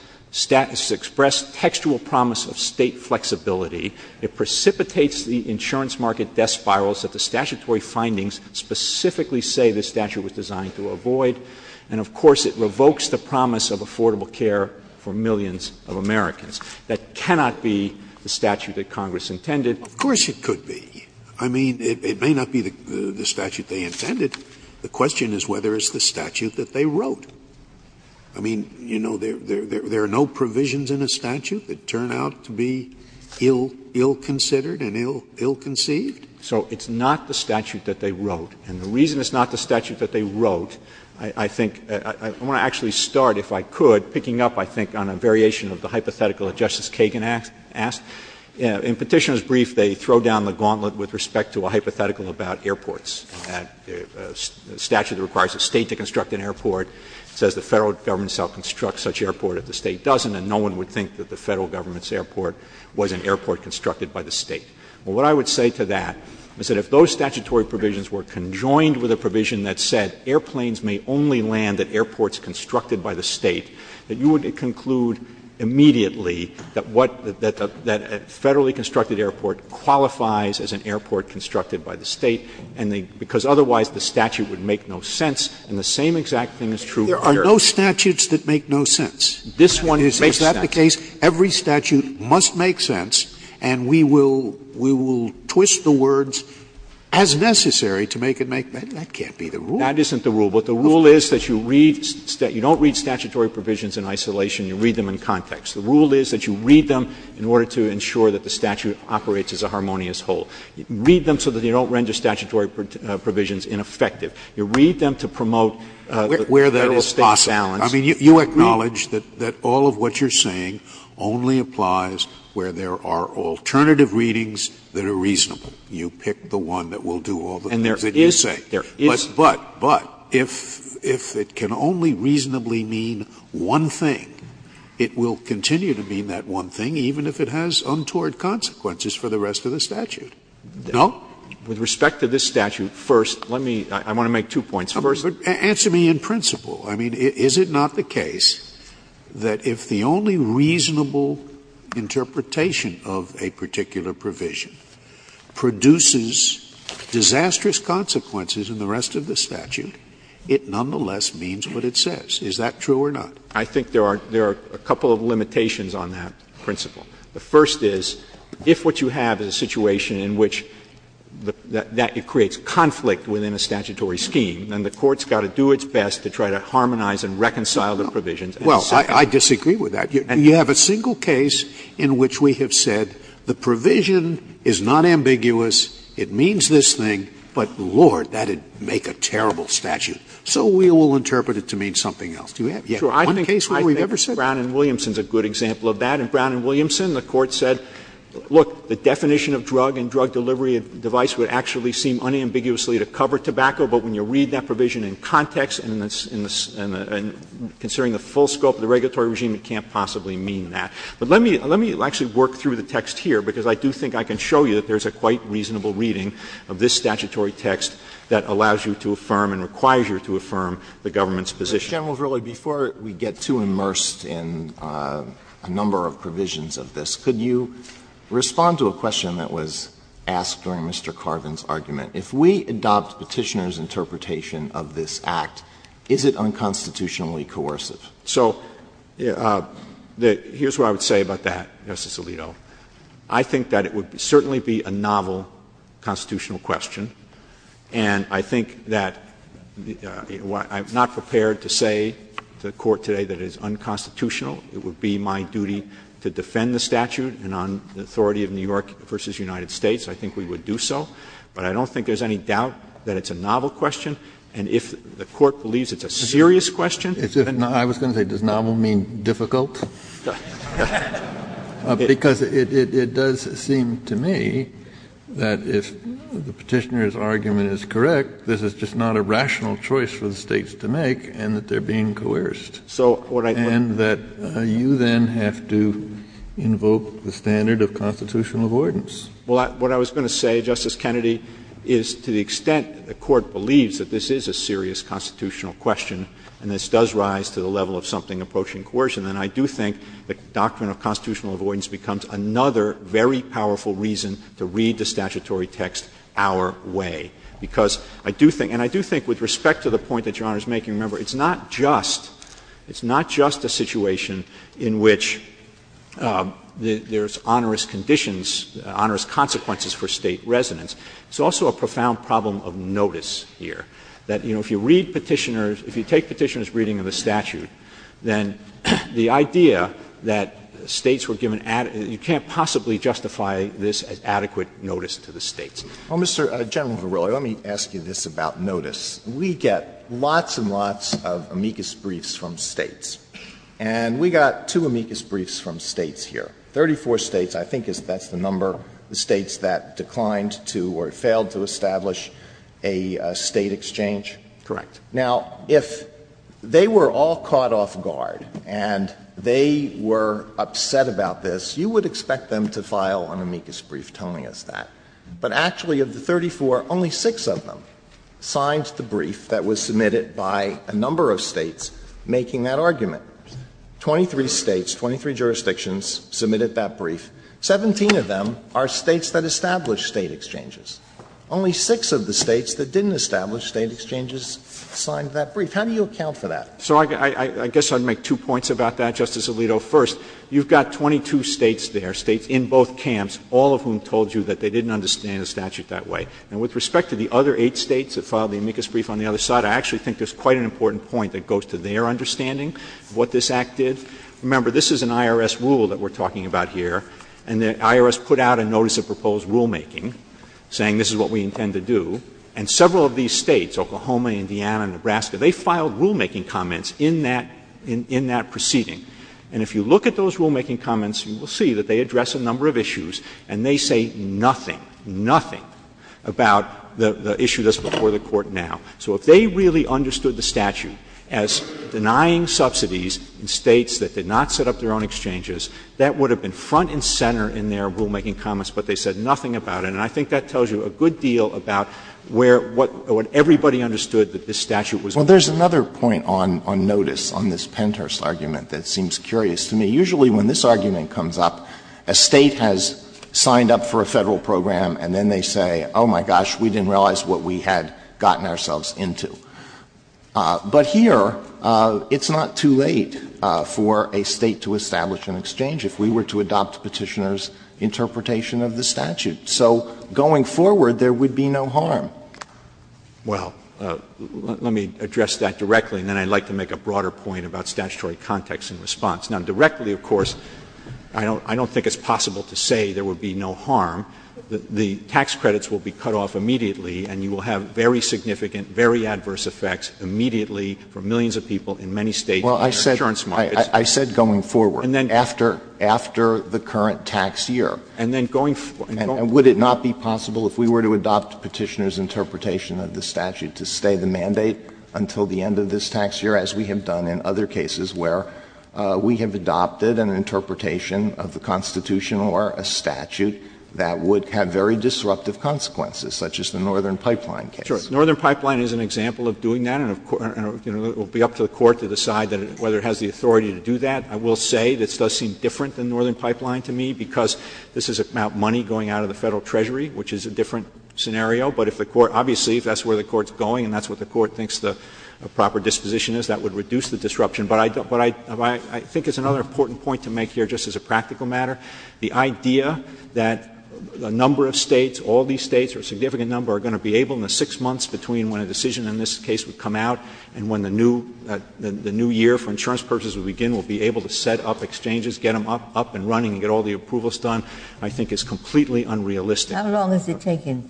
textual promise of state flexibility. It precipitates the insurance market death spirals that the statutory findings specifically say the statute was designed to avoid. And, of course, it revokes the promise of affordable care for millions of Americans. That cannot be the statute that Congress intended. Of course it could be. I mean, it may not be the statute they intended. The question is whether it's the statute that they wrote. I mean, you know, there are no provisions in a statute that turn out to be ill-considered and ill-conceived. So it's not the statute that they wrote. And the reason it's not the statute that they wrote, I think — I want to actually start, if I could, picking up, I think, on a variation of the hypothetical that Justice Kagan asked. In Petitioner's brief, they throw down the gauntlet with respect to a hypothetical about airports. The statute requires a state to construct an airport. It says the federal government shall construct such airport if the state doesn't, and no one would think that the federal government's airport was an airport constructed by the state. Well, what I would say to that is that if those statutory provisions were conjoined with a provision that said airplanes may only land at airports constructed by the state, that you would conclude immediately that a federally constructed airport qualifies as an airport constructed by the state, because otherwise the statute would make no sense. And the same exact thing is true — There are no statutes that make no sense. This one is exactly the case. Every statute must make sense. And we will twist the words as necessary to make it make sense. That can't be the rule. That isn't the rule. But the rule is that you read — you don't read statutory provisions in isolation. You read them in context. The rule is that you read them in order to ensure that the statute operates as a harmonious whole. You read them so that you don't render statutory provisions ineffective. You read them to promote federal state balance. I mean, you acknowledge that all of what you're saying only applies where there are alternative readings that are reasonable. You pick the one that will do all the things that you say. But if it can only reasonably mean one thing, it will continue to mean that one thing, even if it has untoward consequences for the rest of the statute. No? With respect to this statute, first, let me — I want to make two points. First, answer me in principle. I mean, is it not the case that if the only reasonable interpretation of a particular provision produces disastrous consequences in the rest of the statute, it nonetheless means what it says? Is that true or not? I think there are a couple of limitations on that principle. The first is, if what you have is a situation in which that creates conflict within a statutory scheme, then the court's got to do its best to try to harmonize and reconcile the provisions. Well, I disagree with that. You have a single case in which we have said the provision is not ambiguous, it means this thing, but, Lord, that would make a terrible statute. So we will interpret it to mean something else. I think Brown and Williamson's a good example of that. In Brown and Williamson, the court said, look, the definition of drug and drug delivery device would actually seem unambiguously to cover tobacco, but when you read that provision in context and considering the full scope of the regulatory regime, it can't possibly mean that. But let me actually work through the text here, because I do think I can show you that there's a quite reasonable reading of this statutory text that allows you to affirm and requires you to affirm the government's position. General Verrilli, before we get too immersed in a number of provisions of this, could you respond to a question that was asked during Mr. Carvin's argument? If we adopt Petitioner's interpretation of this act, is it unconstitutionally coercive? So here's what I would say about that, Justice Alito. I think that it would certainly be a novel constitutional question, and I think that I'm not prepared to say to the court today that it is unconstitutional. It would be my duty to defend the statute, and on the authority of New York v. United States, I think we would do so. But I don't think there's any doubt that it's a novel question, and if the court believes it's a serious question — I was going to say, does novel mean difficult? Because it does seem to me that if Petitioner's argument is correct, this is just not a rational choice for the states to make and that they're being coerced. And that you then have to invoke the standard of constitutional avoidance. Well, what I was going to say, Justice Kennedy, is to the extent the court believes that this is a serious constitutional question and this does rise to the level of something approaching coercion, then I do think the doctrine of constitutional avoidance becomes another very powerful reason to read the statutory text our way. Because I do think — and I do think with respect to the point that Your Honor is making, remember, it's not just — it's not just a situation in which there's onerous conditions, onerous consequences for State residents. It's also a profound problem of notice here, that, you know, if you read Petitioner's — if you take Petitioner's reading of the statute, then the idea that States were given — you can't possibly justify this as adequate notice to the States. Well, Mr. — General Verrilli, let me ask you this about notice. We get lots and lots of amicus briefs from States. And we got two amicus briefs from States here, 34 States. I think that's the number of States that declined to or failed to establish a State exchange. Correct. Now, if they were all caught off guard and they were upset about this, you would expect them to file an amicus brief telling us that. But actually of the 34, only six of them signed the brief that was submitted by a number of States making that argument. Twenty-three States, 23 jurisdictions submitted that brief. Seventeen of them are States that established State exchanges. Only six of the States that didn't establish State exchanges signed that brief. How do you account for that? So I guess I'd make two points about that, Justice Alito. First, you've got 22 States there, States in both camps, all of whom told you that they didn't understand the statute that way. And with respect to the other eight States that filed the amicus brief on the other side, I actually think there's quite an important point that goes to their understanding of what this Act did. Remember, this is an IRS rule that we're talking about here. And the IRS put out a notice of proposed rulemaking saying this is what we intend to do. And several of these States, Oklahoma, Indiana, and Nebraska, they filed rulemaking comments in that proceeding. And if you look at those rulemaking comments, you will see that they address a number of issues. And they say nothing, nothing about the issue that's before the Court now. So if they really understood the statute as denying subsidies in States that did not set up their own exchanges, that would have been front and center in their rulemaking comments, but they said nothing about it. And I think that tells you a good deal about what everybody understood that this statute was denying. Well, there's another point on notice on this PENTERS argument that seems curious to me. Usually when this argument comes up, a State has signed up for a Federal program, and then they say, oh, my gosh, we didn't realize what we had gotten ourselves into. But here, it's not too late for a State to establish an exchange if we were to adopt Petitioner's interpretation of the statute. So going forward, there would be no harm. Well, let me address that directly, and then I'd like to make a broader point about statutory context and response. Now, directly, of course, I don't think it's possible to say there would be no harm. The tax credits will be cut off immediately, and you will have very significant, very adverse effects immediately for millions of people in many States. Well, I said going forward. And then after the current tax year. And then going forward. And would it not be possible if we were to adopt Petitioner's interpretation of the statute to stay the mandate until the end of this tax year, as we have done in other cases where we have adopted an interpretation of the Constitution or a statute that would have very disruptive consequences, such as the Northern Pipeline case? Sure. The Northern Pipeline is an example of doing that, and it will be up to the Court to decide whether it has the authority to do that. I will say this does seem different than Northern Pipeline to me because this is about money going out of the Federal Treasury, which is a different scenario, but if the Court — obviously, if that's where the Court is going and that's what the Court thinks the proper disposition is, that would reduce the disruption. But I think it's another important point to make here, just as a practical matter, the idea that a number of States, all these States, or a significant number, are going to be able in the six months between when a decision in this case would come out and when the new year for insurance purchases would begin, will be able to set up exchanges, get them up and running, get all the approvals done, I think is completely unrealistic. How long is it taking?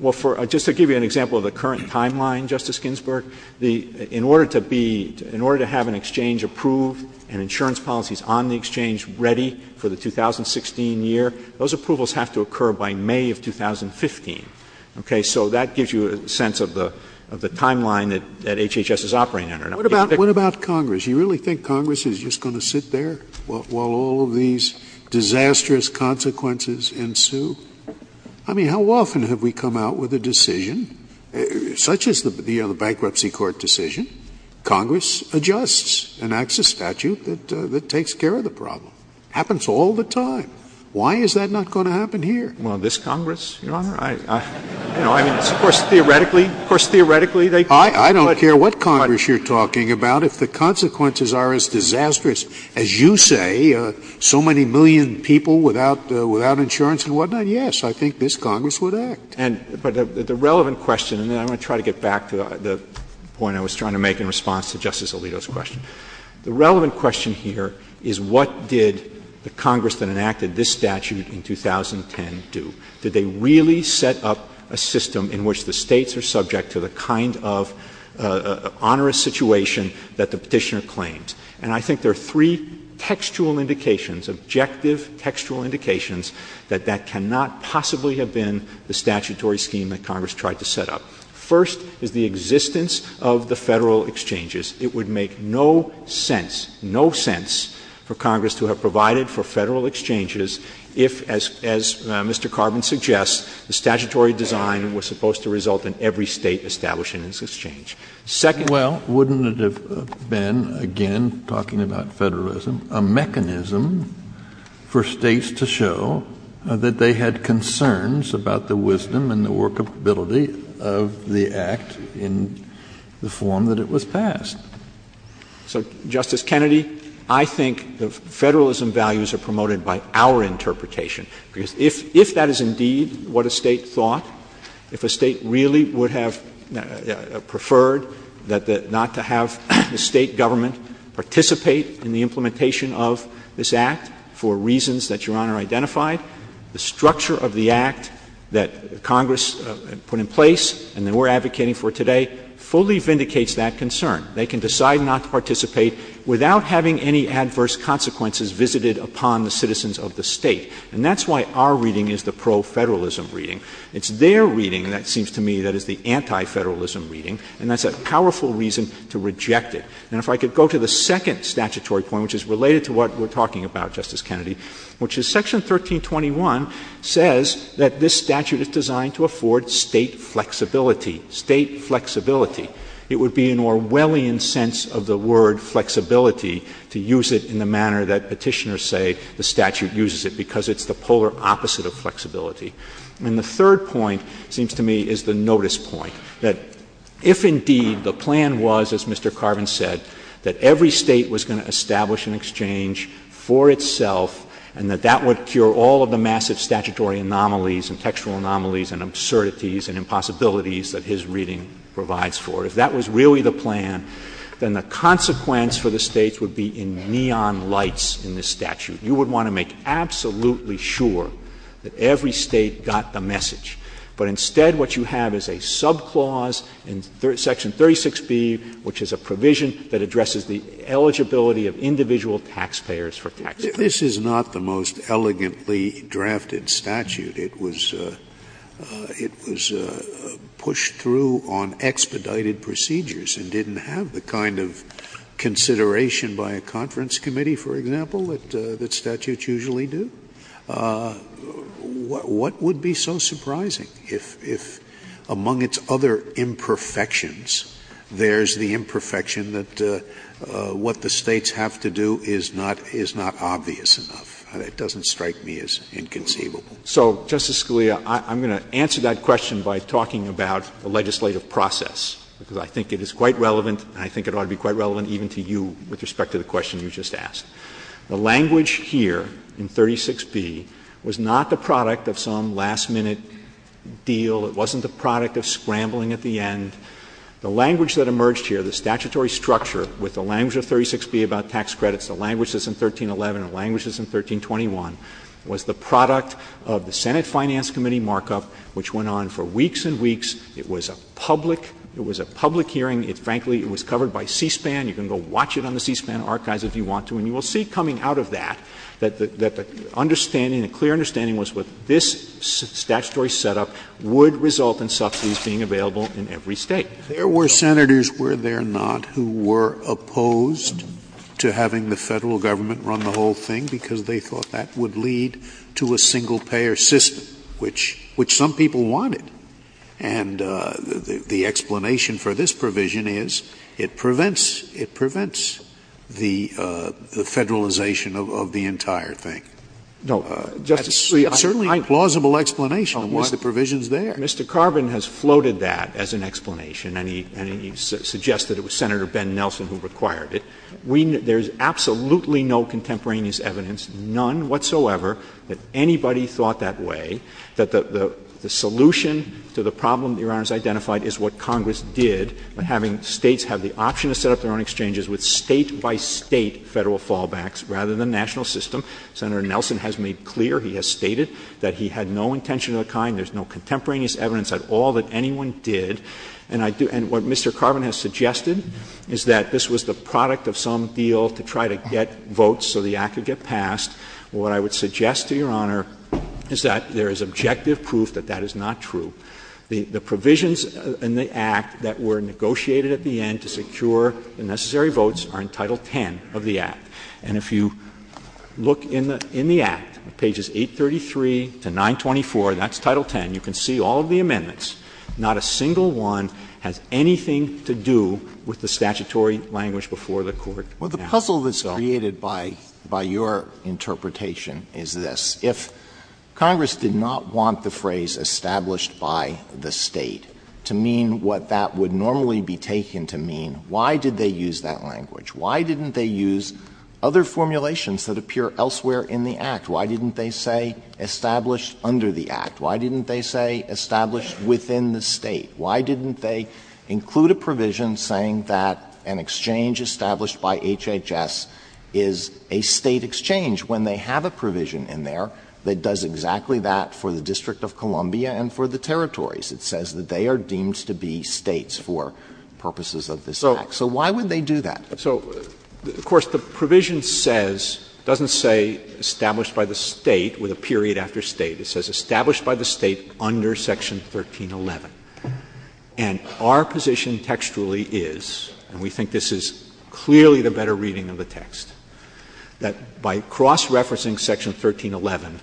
Well, just to give you an example of the current timeline, Justice Ginsburg, in order to have an exchange approved and insurance policies on the exchange ready for the 2016 year, those approvals have to occur by May of 2015. Okay, so that gives you a sense of the timeline that HHS is operating under. What about Congress? You really think Congress is just going to sit there while all these disastrous consequences ensue? I mean, how often have we come out with a decision, such as the bankruptcy court decision, Congress adjusts and acts as statute that takes care of the problem? Happens all the time. Why is that not going to happen here? Well, this Congress, Your Honor? Of course, theoretically, they could. I don't care what Congress you're talking about. If the consequences are as disastrous as you say, so many million people without insurance and whatnot, yes, I think this Congress would act. And the relevant question, and then I'm going to try to get back to the point I was trying to make in response to Justice Alito's question. The relevant question here is what did the Congress that enacted this statute in 2010 do? Did they really set up a system in which the States are subject to the kind of onerous situation that the Petitioner claims? And I think there are three textual indications, objective textual indications, that that cannot possibly have been the statutory scheme that Congress tried to set up. First is the existence of the Federal Exchanges. It would make no sense, no sense for Congress to have provided for Federal Exchanges if, as Mr. Carvin suggests, the statutory design was supposed to result in every State establishing its exchange. Second, well, wouldn't it have been, again, talking about federalism, a mechanism for States to show that they had concerns about the wisdom and the workability of the Act in the form that it was passed? So, Justice Kennedy, I think the federalism values are promoted by our interpretation, because if that is indeed what a State thought, if a State really would have preferred not to have the State government participate in the implementation of this Act for reasons that Your Honor identified, the structure of the Act that Congress put in place and that we're advocating for today fully vindicates that concern. They can decide not to participate without having any adverse consequences visited upon the citizens of the State. And that's why our reading is the pro-federalism reading. It's their reading, and it seems to me that it's the anti-federalism reading, and that's a powerful reason to reject it. And if I could go to the second statutory point, which is related to what we're talking about, Justice Kennedy, which is Section 1321 says that this statute is designed to afford State flexibility. State flexibility. It would be an Orwellian sense of the word flexibility to use it in the manner that petitioners say the statute uses it, because it's the polar opposite of flexibility. And the third point, it seems to me, is the notice point, that if indeed the plan was, as Mr. Carvin said, that every State was going to establish an exchange for itself and that that would cure all of the massive statutory anomalies and textual anomalies and absurdities and impossibilities that his reading provides for, if that was really the plan, then the consequence for the States would be in neon lights in this statute. You would want to make absolutely sure that every State got the message. But instead what you have is a subclause in Section 36B, which is a provision that addresses the eligibility of individual taxpayers for flexibility. Scalia. This is not the most elegantly drafted statute. It was pushed through on expedited procedures and didn't have the kind of consideration by a conference committee, for example, that statutes usually do. What would be so surprising if, among its other imperfections, there's the imperfection that what the States have to do is not obvious enough? It doesn't strike me as inconceivable. So, Justice Scalia, I'm going to answer that question by talking about the legislative process, because I think it is quite relevant and I think it ought to be quite relevant even to you with respect to the question you just asked. The language here in 36B was not the product of some last-minute deal. It wasn't the product of scrambling at the end. The language that emerged here, the statutory structure with the language of 36B about tax credits, the language that's in 1311, the language that's in 1321, was the product of the Senate Finance Committee markup, which went on for weeks and weeks. It was a public hearing. Frankly, it was covered by C-SPAN. You can go watch it on the C-SPAN archives if you want to, and you will see coming out of that that the understanding, the clear understanding, was what this statutory setup would result in subsidies being available in every State. There were Senators, were there not, who were opposed to having the Federal Government run the whole thing because they thought that would lead to a single-payer system, which some people wanted. And the explanation for this provision is it prevents the federalization of the entire thing. Certainly a plausible explanation of why the provision's there. Mr. Carvin has floated that as an explanation, and he suggests that it was Senator Ben Nelson who required it. There's absolutely no contemporaneous evidence, none whatsoever, that anybody thought that way, that the solution to the problem Your Honor has identified is what Congress did by having States have the option to set up their own exchanges with State-by-State federal fallbacks rather than national system. Senator Nelson has made clear, he has stated, that he had no intention of that kind. There's no contemporaneous evidence at all that anyone did. And what Mr. Carvin has suggested is that this was the product of some deal to try to get votes so the Act could get passed. What I would suggest to Your Honor is that there is objective proof that that is not true. The provisions in the Act that were negotiated at the end to secure the necessary votes are in Title X of the Act. And if you look in the Act, pages 833 to 924, that's Title X. You can see all of the amendments. Not a single one has anything to do with the statutory language before the Court. Well, the puzzle that's created by your interpretation is this. If Congress did not want the phrase established by the State to mean what that would normally be taken to mean, why did they use that language? Why didn't they use other formulations that appear elsewhere in the Act? Why didn't they say established under the Act? Why didn't they say established within the State? Why didn't they include a provision saying that an exchange established by HHS is a State exchange when they have a provision in there that does exactly that for the District of Columbia and for the territories? It says that they are deemed to be States for purposes of this Act. So why would they do that? So, of course, the provision says, doesn't say established by the State with a period after State. It says established by the State under Section 1311. And our position textually is, and we think this is clearly the better reading of the text, that by cross-referencing Section 1311,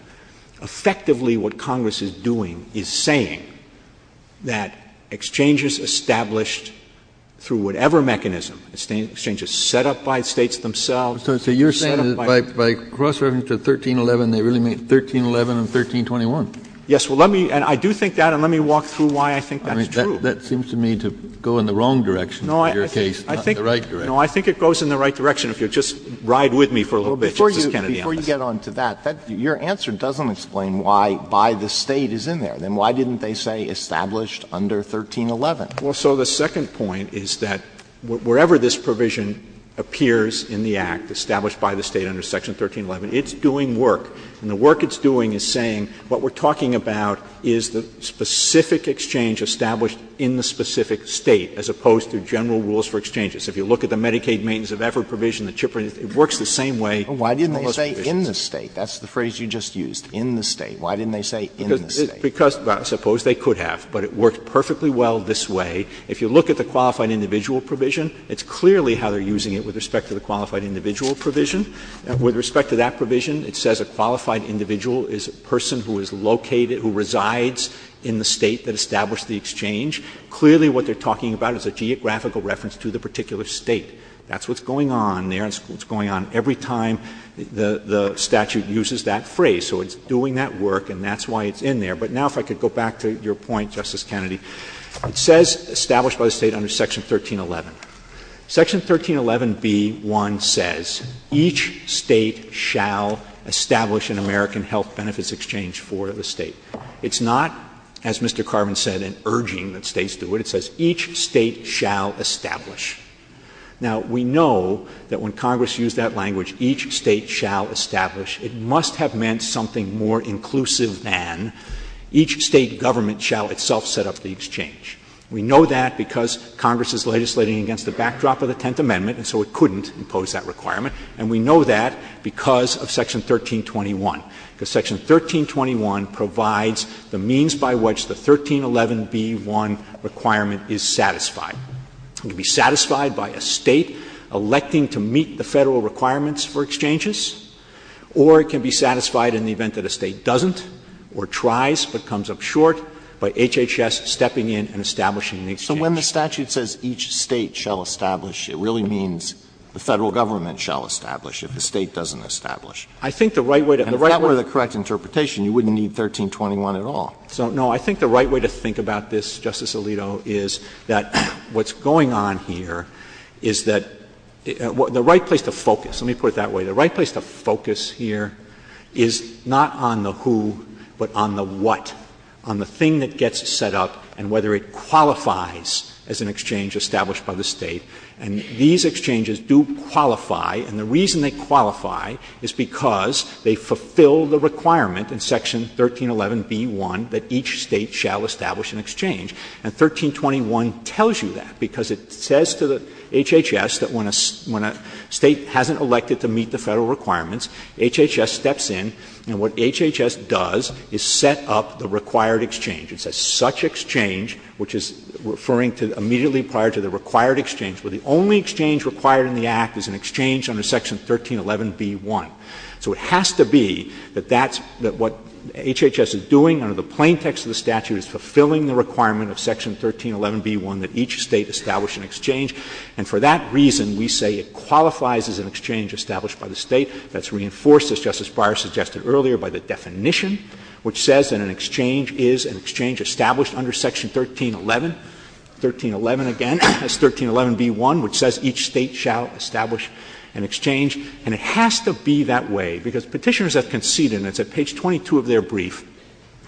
effectively what Congress is doing is saying that exchanges established through whatever mechanism, exchanges set up by States themselves. So you're saying that by cross-referencing 1311, they really mean 1311 and 1321. Yes. Well, let me — and I do think that, and let me walk through why I think that's true. That seems to me to go in the wrong direction in your case, not the right direction. No, I think it goes in the right direction, if you'll just ride with me for a little bit, Justice Kennedy. Before you get on to that, your answer doesn't explain why by the State is in there. Then why didn't they say established under 1311? Well, so the second point is that wherever this provision appears in the Act established by the State under Section 1311, it's doing work. And the work it's doing is saying what we're talking about is the specific exchange established in the specific State, as opposed to general rules for exchanges. If you look at the Medicaid maintenance of effort provision, the CHIP provision, it works the same way. Why didn't they say in the State? That's the phrase you just used, in the State. Why didn't they say in the State? Suppose they could have, but it works perfectly well this way. If you look at the qualified individual provision, it's clearly how they're using it with respect to the qualified individual provision. With respect to that provision, it says a qualified individual is a person who is located who resides in the State that established the exchange. Clearly what they're talking about is a geographical reference to the particular State. That's what's going on there. It's going on every time the statute uses that phrase. So it's doing that work, and that's why it's in there. But now if I could go back to your point, Justice Kennedy. It says established by the State under Section 1311. Section 1311B1 says each State shall establish an American health benefits exchange for the State. It's not, as Mr. Carvin said, an urging that States do it. It says each State shall establish. Now, we know that when Congress used that language, each State shall establish, it must have meant something more inclusive than each State government shall itself set up the exchange. We know that because Congress is legislating against the backdrop of the Tenth Amendment, and so it couldn't impose that requirement. And we know that because of Section 1321. Because Section 1321 provides the means by which the 1311B1 requirement is satisfied. It can be satisfied by a State electing to meet the Federal requirements for exchanges or it can be satisfied in the event that a State doesn't or tries but comes up short by HHS stepping in and establishing an exchange. So when the statute says each State shall establish, it really means the Federal government shall establish if the State doesn't establish. I think the right way to think about this, Justice Alito, is that what's going on here is that the right place to focus, let me put it that way, the right place to focus here is not on the who but on the what, on the thing that gets set up and whether it qualifies as an exchange established by the State. And these exchanges do qualify, and the reason they qualify is because they fulfill the requirement in Section 1311B1 And 1321 tells you that because it says to the HHS that when a State hasn't elected to meet the Federal requirements, HHS steps in and what HHS does is set up the required exchange. It says such exchange, which is referring to immediately prior to the required exchange, where the only exchange required in the Act is an exchange under Section 1311B1. So it has to be that what HHS is doing under the plaintext of the statute is fulfilling the requirement of Section 1311B1 that each State establish an exchange. And for that reason, we say it qualifies as an exchange established by the State. That's reinforced, as Justice Breyer suggested earlier, by the definition, which says that an exchange is an exchange established under Section 1311. 1311 again is 1311B1, which says each State shall establish an exchange. And it has to be that way, because Petitioners have conceded, and it's at page 22 of their brief,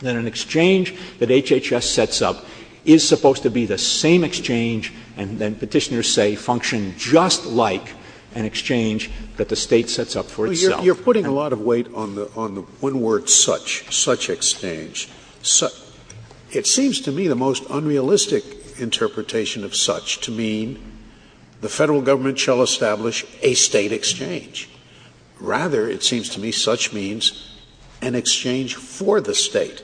that an exchange that HHS sets up is supposed to be the same exchange, and then Petitioners say function just like an exchange that the State sets up for itself. You're putting a lot of weight on one word, such, such exchange. It seems to me the most unrealistic interpretation of such to mean the Federal Government shall establish a State exchange. Rather, it seems to me such means an exchange for the State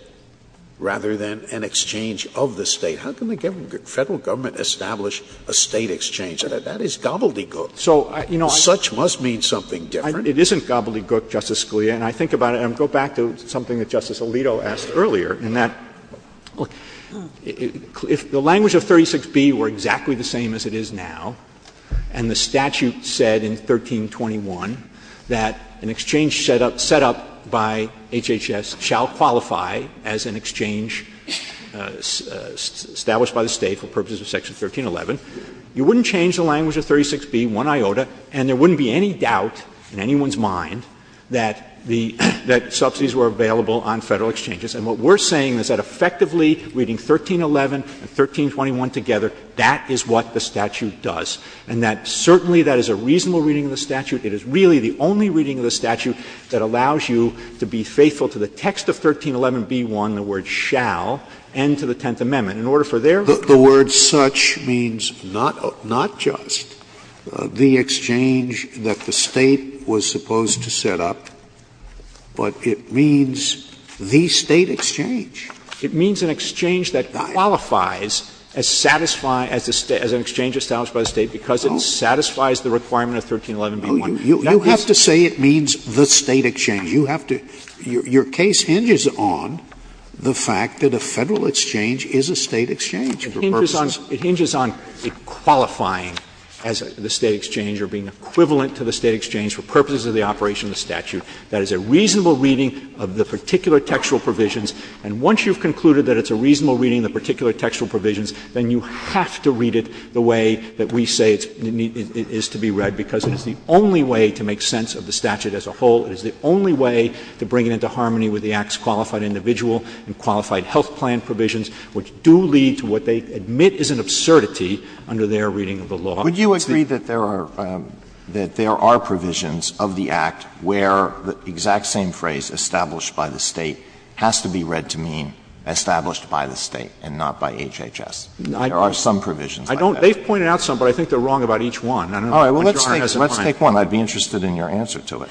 rather than an exchange of the State. How can the Federal Government establish a State exchange? That is gobbledygook. So such must mean something different. It isn't gobbledygook, Justice Scalia. And I think about it, and I'll go back to something that Justice Alito asked earlier, in that if the language of 36B were exactly the same as it is now, and the statute said in 1321 that an exchange set up by HHS shall qualify as an exchange established by the State for purposes of Section 1311, you wouldn't change the language of 36B, one iota, and there wouldn't be any doubt in anyone's mind that the — that subsidies were available on Federal exchanges. And what we're saying is that effectively reading 1311 and 1321 together, that is what the statute does, and that certainly that is a reasonable reading of the statute. It is really the only reading of the statute that allows you to be faithful to the text of 1311b1, the word shall, and to the Tenth Amendment. And in order for there — The word such means not just the exchange that the State was supposed to set up, but it means the State exchange. It means an exchange that qualifies as satisfy — as an exchange established by the State because it satisfies the requirement of 1311b1. You have to say it means the State exchange. Your case hinges on the fact that a Federal exchange is a State exchange. It hinges on the qualifying as the State exchange or being equivalent to the State exchange for purposes of the operation of the statute. That is a reasonable reading of the particular textual provisions. And once you've concluded that it's a reasonable reading of the particular textual provisions, then you have to read it the way that we say it is to be read because It is the only way to make sense of the statute as a whole. It is the only way to bring it into harmony with the Act's qualified individual and qualified health plan provisions, which do lead to what they admit is an absurdity under their reading of the law. Would you agree that there are — that there are provisions of the Act where the exact same phrase, established by the State, has to be read to mean established by the State and not by HHS? There are some provisions like that. I don't — they've pointed out some, but I think they're wrong about each one. All right. Well, let's take — let's take one. I'd be interested in your answer to it.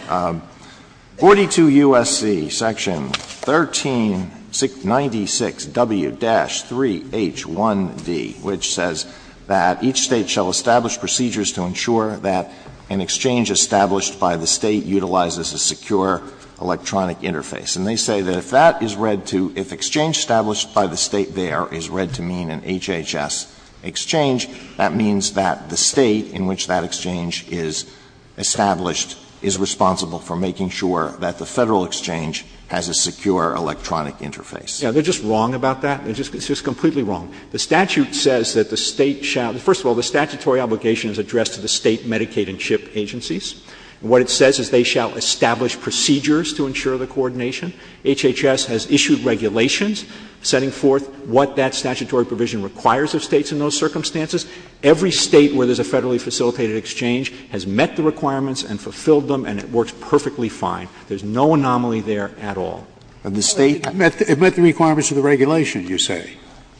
42 U.S.C., Section 1396 W-3H1D, which says that each State shall establish procedures to ensure that an exchange established by the State utilizes a secure electronic interface. And they say that if that is read to — if exchange established by the State there is read to mean an HHS exchange, that means that the State in which that exchange is established is responsible for making sure that the Federal exchange has a secure electronic interface. Yeah, they're just wrong about that. They're just — it's just completely wrong. The statute says that the State shall — first of all, the statutory obligation is addressed to the State Medicaid and CHIP agencies. What it says is they shall establish procedures to ensure the coordination. HHS has issued regulations setting forth what that statutory provision requires of States in those circumstances. Every State where there's a federally facilitated exchange has met the requirements and fulfilled them, and it works perfectly fine. There's no anomaly there at all. And the State — It met the requirements of the regulation, you say.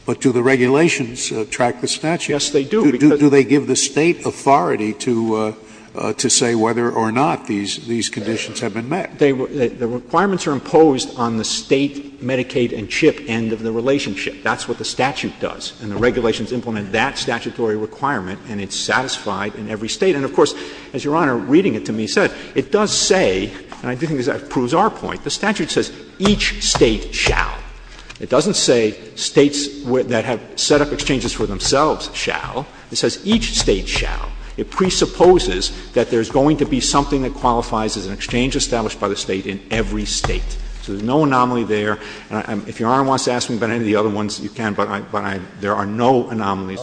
But do the regulations track the statute? Yes, they do, because — Do they give the State authority to say whether or not these conditions have been met? The requirements are imposed on the State Medicaid and CHIP end of the relationship. That's what the statute does. And the regulations implement that statutory requirement, and it's satisfied in every State. And of course, as Your Honor, reading it to me, said, it does say — and I think that proves our point — the statute says each State shall. It doesn't say States that have set up exchanges for themselves shall. It says each State shall. It presupposes that there's going to be something that qualifies as an exchange established by the State in every State. So there's no anomaly there. If Your Honor wants to ask me about any of the other ones, you can, but there are no anomalies,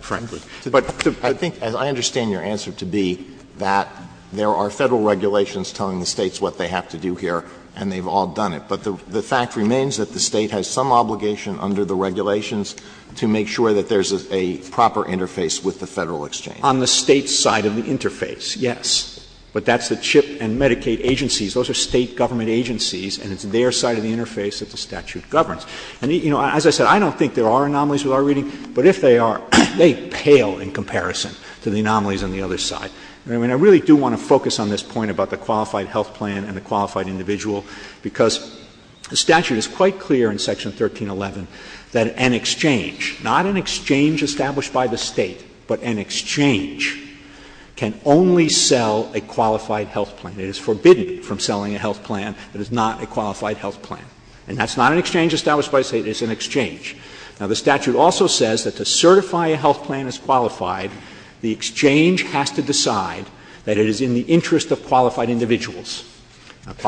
frankly. But I think — I understand your answer to be that there are Federal regulations telling the States what they have to do here, and they've all done it. But the fact remains that the State has some obligation under the regulations to make sure that there's a proper interface with the Federal exchange. On the State's side of the interface, yes. But that's the CHIP and Medicaid agencies. Those are State government agencies, and it's their side of the interface that the statute governs. And, you know, as I said, I don't think there are anomalies with our reading, but if they are, they pale in comparison to the anomalies on the other side. I mean, I really do want to focus on this point about the qualified health plan and the qualified individual, because the statute is quite clear in Section 1311 that an exchange — not an exchange established by the State, but an exchange — can only sell a qualified health plan. It is forbidden from selling a health plan that is not a qualified health plan. And that's not an exchange established by the State. It's an exchange. Now, the statute also says that to certify a health plan as qualified, the exchange has to decide that it is in the interest of qualified individuals. So if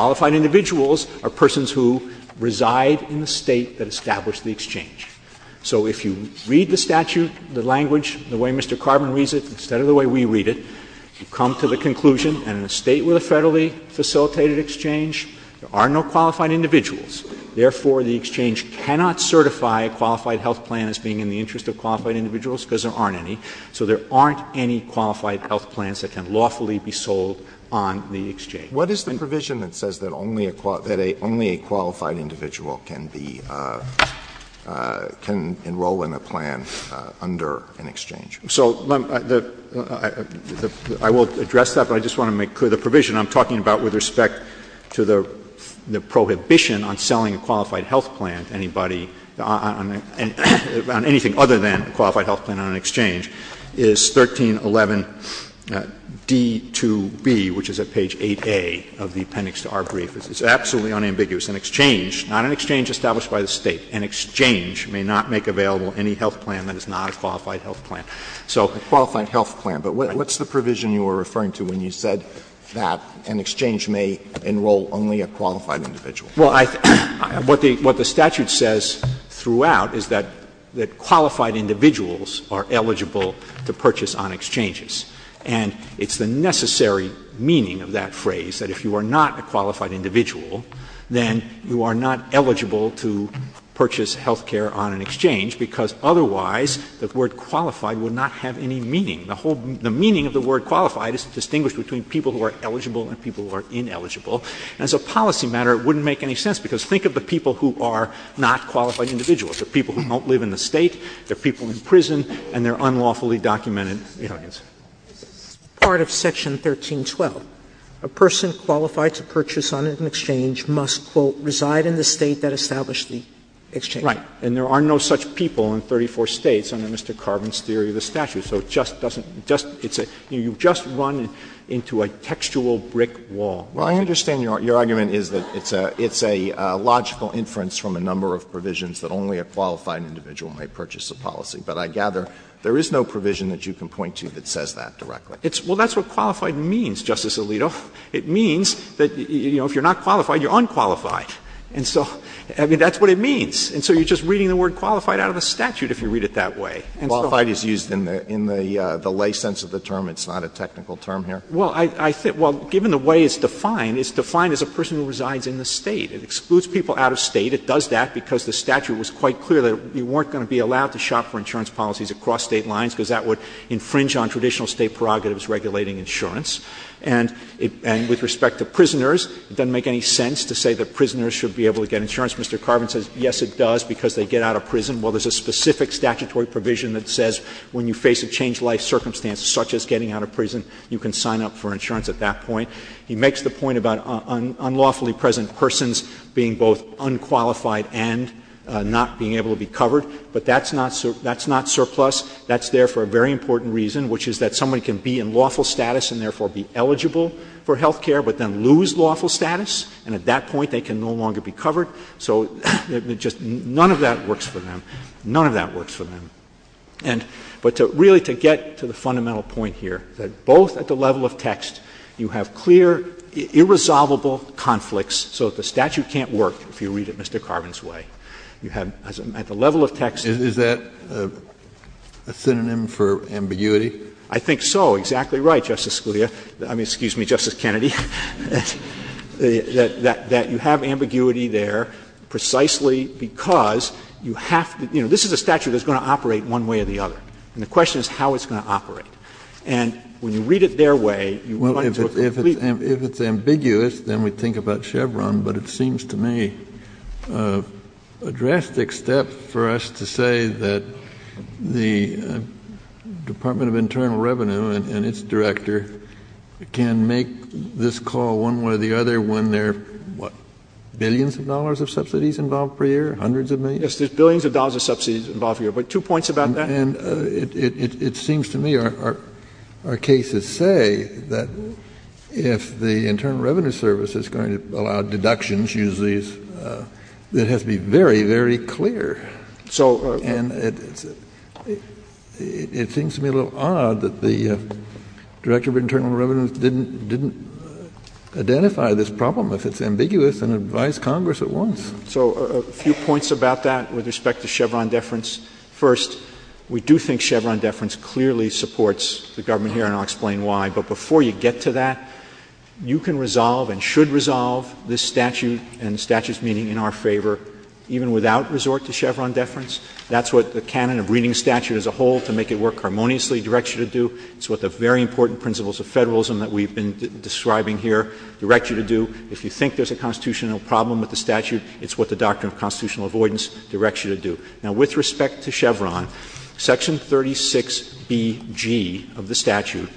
you read the statute, the language, the way Mr. Carbon reads it, instead of the way we read it, you come to the conclusion that in a State with a federally facilitated exchange, there are no qualified individuals. Therefore, the exchange cannot certify a qualified health plan as being in the interest of qualified individuals, because there aren't any. So there aren't any qualified health plans that can lawfully be sold on the exchange. What is the provision that says that only a qualified individual can be — can enroll in a plan under an exchange? So I will address that, but I just want to make clear the provision I'm talking about with respect to the prohibition on selling a qualified health plan to anybody on anything other than a qualified health plan on an exchange is 1311d-2b, which is at page 8a of the appendix to our brief. This is absolutely unambiguous. An exchange, not an exchange established by the State, an exchange may not make available any health plan that is not a qualified health plan. So a qualified health plan. But what's the provision you were referring to when you said that an exchange may enroll only a qualified individual? Well, I — what the statute says throughout is that qualified individuals are eligible to purchase on exchanges. And it's the necessary meaning of that phrase, that if you are not a qualified individual, then you are not eligible to purchase health care on an exchange, because otherwise the word qualified would not have any meaning. The whole — the meaning of the word qualified is distinguished between people who are eligible and people who are ineligible. And as a policy matter, it wouldn't make any sense, because think of the people who are not qualified individuals. They're people who don't live in the State, they're people in prison, and they're unlawfully documented. Part of Section 1312. A person qualified to purchase on an exchange must, quote, reside in the State that established the exchange. Right. And there are no such people in 34 States under Mr. Carvin's theory of the statute. So it just doesn't — you've just run into a textual brick wall. Well, I understand your argument is that it's a logical inference from a number of provisions that only a qualified individual may purchase a policy. But I gather there is no provision that you can point to that says that directly. Well, that's what qualified means, Justice Alito. It means that, you know, if you're not qualified, you're unqualified. And so — I mean, that's what it means. And so you're just reading the word qualified out of a statute if you read it that way. Qualified is used in the lay sense of the term. It's not a technical term here. Well, I think — well, given the way it's defined, it's defined as a person who resides in the State. It excludes people out of State. It does that because the statute was quite clear that you weren't going to be allowed to shop for insurance policies across State lines because that would infringe on traditional State prerogatives regulating insurance. And with respect to prisoners, it doesn't make any sense to say that prisoners should be able to get insurance. Mr. Carvin says, yes, it does, because they get out of prison. Well, there's a specific statutory provision that says when you face a changed-life circumstance, such as getting out of prison, you can sign up for insurance at that point. He makes the point about unlawfully present persons being both unqualified and not being able to be covered. But that's not surplus. That's there for a very important reason, which is that somebody can be in lawful status and therefore be eligible for health care, but then lose lawful status. And at that point, they can no longer be covered. So just none of that works for them. None of that works for them. But really, to get to the fundamental point here, that both at the level of text, you have clear, irresolvable conflicts. So the statute can't work if you read it Mr. Carvin's way. You have, at the level of text — Is that a synonym for ambiguity? I think so. Exactly right, Justice Scalia. I mean, excuse me, Justice Kennedy. That you have ambiguity there precisely because you have — you know, this is a statute that's going to operate one way or the other. And the question is how it's going to operate. And when you read it their way — Well, if it's ambiguous, then we think about Chevron. But it seems to me a drastic step for us to say that the Department of Internal Revenue and its director can make this call one way or the other when there are, what, billions of dollars of subsidies involved per year, hundreds of millions? Yes, there's billions of dollars of subsidies involved per year. But two points about that. And it seems to me our cases say that if the Internal Revenue Service is going to allow deductions, usually it has to be very, very clear. So — And it seems to me a little odd that the Director of Internal Revenue didn't identify this problem if it's ambiguous and advised Congress at once. So a few points about that with respect to Chevron deference. First, we do think Chevron deference clearly supports the government here, and I'll explain why. But before you get to that, you can resolve and should resolve this statute and the statute's meaning in our favor even without resort to Chevron deference. That's what the canon of reading statute as a whole to make it work harmoniously directs you to do. It's what the very important principles of federalism that we've been describing here direct you to do. If you think there's a constitutional problem with the statute, it's what the doctrine of constitutional avoidance directs you to do. Now, with respect to Chevron, Section 36BG of the statute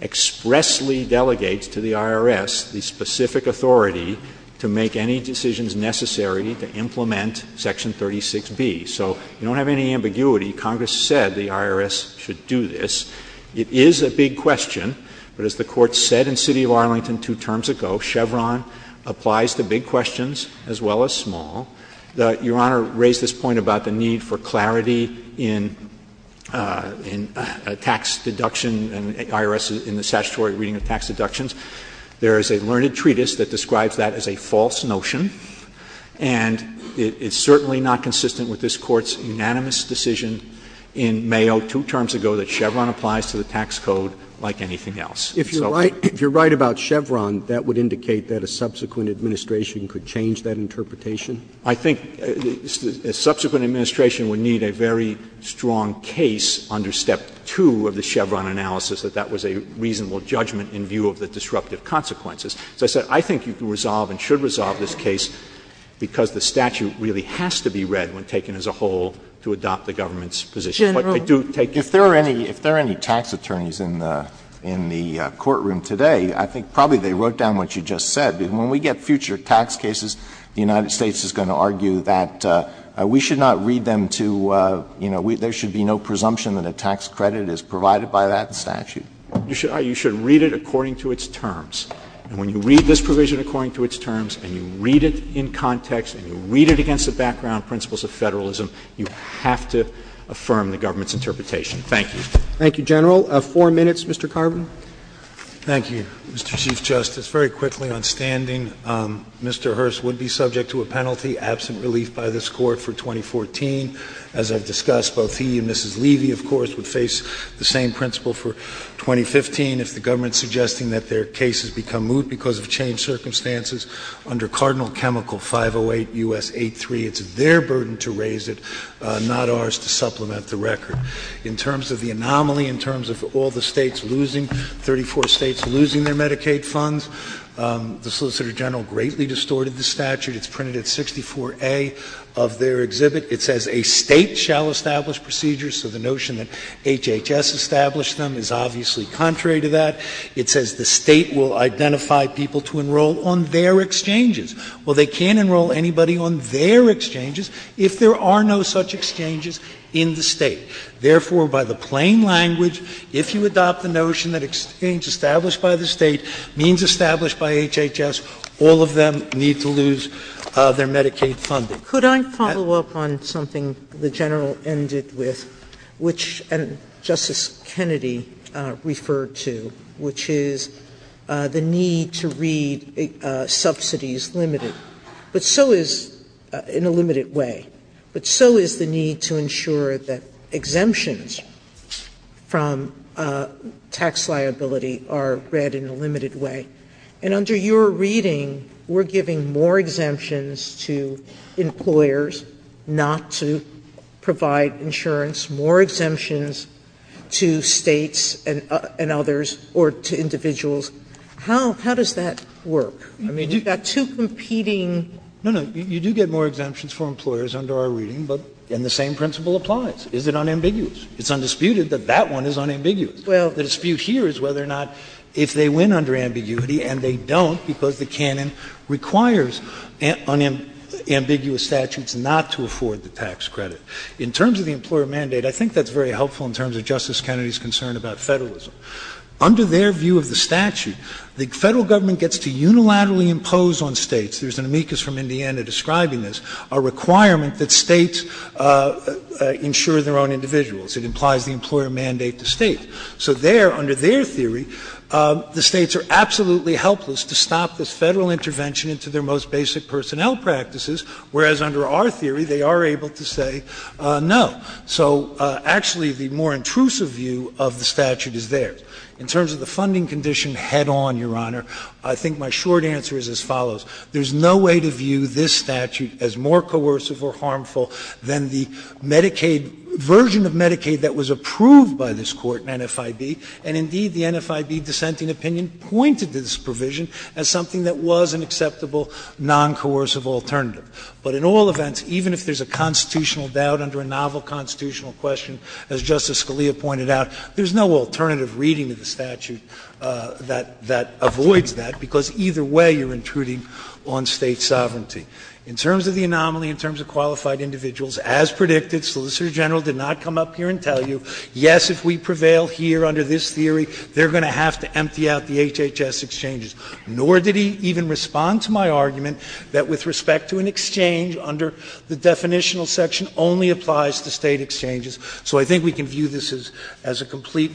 expressly delegates to the IRS the specific authority to make any decisions necessary to implement Section 36B. So you don't have any ambiguity. Congress said the IRS should do this. It is a big question. But as the Court said in City of Arlington two terms ago, Chevron applies to big questions as well as small. Your Honor raised this point about the need for clarity in a tax deduction and the IRS in the statutory reading of tax deductions. There is a learned treatise that describes that as a false notion. And it's certainly not consistent with this Court's unanimous decision in Mayo two terms ago that Chevron applies to the tax code like anything else. If you're right about Chevron, that would indicate that a subsequent administration could change that interpretation? I think a subsequent administration would need a very strong case under Step 2 of the Chevron analysis that that was a reasonable judgment in view of the disruptive consequences. As I said, I think you can resolve and should resolve this case because the statute really has to be read when taken as a whole to adopt the government's position. If there are any tax attorneys in the courtroom today, I think probably they wrote down what you just said. When we get future tax cases, the United States is going to argue that we should not read them to, you know, there should be no presumption that a tax credit is provided by that statute. You should read it according to its terms. And when you read this provision according to its terms and you read it in context and you read it against the background principles of federalism, you have to affirm the government's interpretation. Thank you. Thank you, General. Four minutes, Mr. Carbon. Thank you, Mr. Chief Justice. Very quickly on standing, Mr. Hearst would be subject to a penalty, absent relief by this court for 2014. As I've discussed, both he and Mrs. Levy, of course, would face the same principle for 2015 if the government's suggesting that their case has become moot because of changed circumstances under Cardinal Chemical 508 U.S. 8.3. It's their burden to raise it, not ours to supplement the record. In terms of the anomaly, in terms of all the states losing, 34 states losing their Medicaid funds, the Solicitor General greatly distorted the statute. It's printed at 64A of their exhibit. It says a state shall establish procedures, so the notion that HHS established them is obviously contrary to that. It says the state will identify people to enroll on their exchanges. Well, they can't enroll anybody on their exchanges if there are no such exchanges in the state. Therefore, by the plain language, if you adopt the notion that exchange established by the state means established by HHS, all of them need to lose their Medicaid funding. Could I follow up on something the General ended with, which Justice Kennedy referred to, which is the need to read subsidies limited, but so is in a limited way. But so is the need to ensure that exemptions from tax liability are read in a limited way. And under your reading, we're giving more exemptions to employers not to provide insurance, more exemptions to states and others or to individuals. How does that work? I mean, you've got two competing... No, no. You do get more exemptions for employers under our reading, and the same principle applies. Is it unambiguous? It's undisputed that that one is unambiguous. Well, the dispute here is whether or not if they win under ambiguity, and they don't because the canon requires unambiguous statutes not to afford the tax credit. In terms of the employer mandate, I think that's very helpful in terms of Justice Kennedy's concern about federalism. Under their view of the statute, the federal government gets to unilaterally impose on states, there's an amicus from Indiana describing this, a requirement that states insure their own individuals. It implies the employer mandate the state. So there, under their theory, the states are absolutely helpless to stop this federal intervention into their most basic personnel practices, whereas under our theory, they are able to say no. So actually, the more intrusive view of the statute is there. In terms of the funding condition head-on, Your Honor, I think my short answer is as follows. There's no way to view this statute as more coercive or harmful than the Medicaid version of Medicaid that was approved by this court, NFIB, and indeed the NFIB dissenting opinion pointed to this provision as something that was an acceptable, non-coercive alternative. But in all events, even if there's a constitutional doubt under a novel constitutional question, as Justice Scalia pointed out, there's no alternative reading of the statute that avoids that, because either way you're intruding on state sovereignty. In terms of the anomaly, in terms of qualified individuals, as predicted, Solicitor General did not come up here and tell you, yes, if we prevail here under this theory, they're going to have to empty out the HHS exchanges. Nor did he even respond to my argument that with respect to an exchange under the definitional section, only applies to state exchanges. So I think we can view this as a complete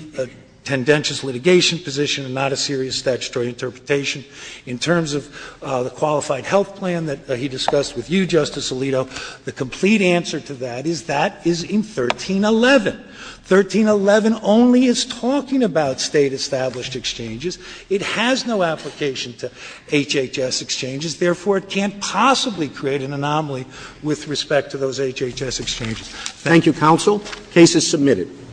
tendentious litigation position and not a serious statutory interpretation. In terms of the qualified health plan that he discussed with you, Justice Alito, the complete answer to that is that is in 1311. 1311 only is talking about state-established exchanges. It has no application to HHS exchanges. Therefore, it can't possibly create an anomaly with respect to those HHS exchanges. Thank you, counsel. The case is submitted.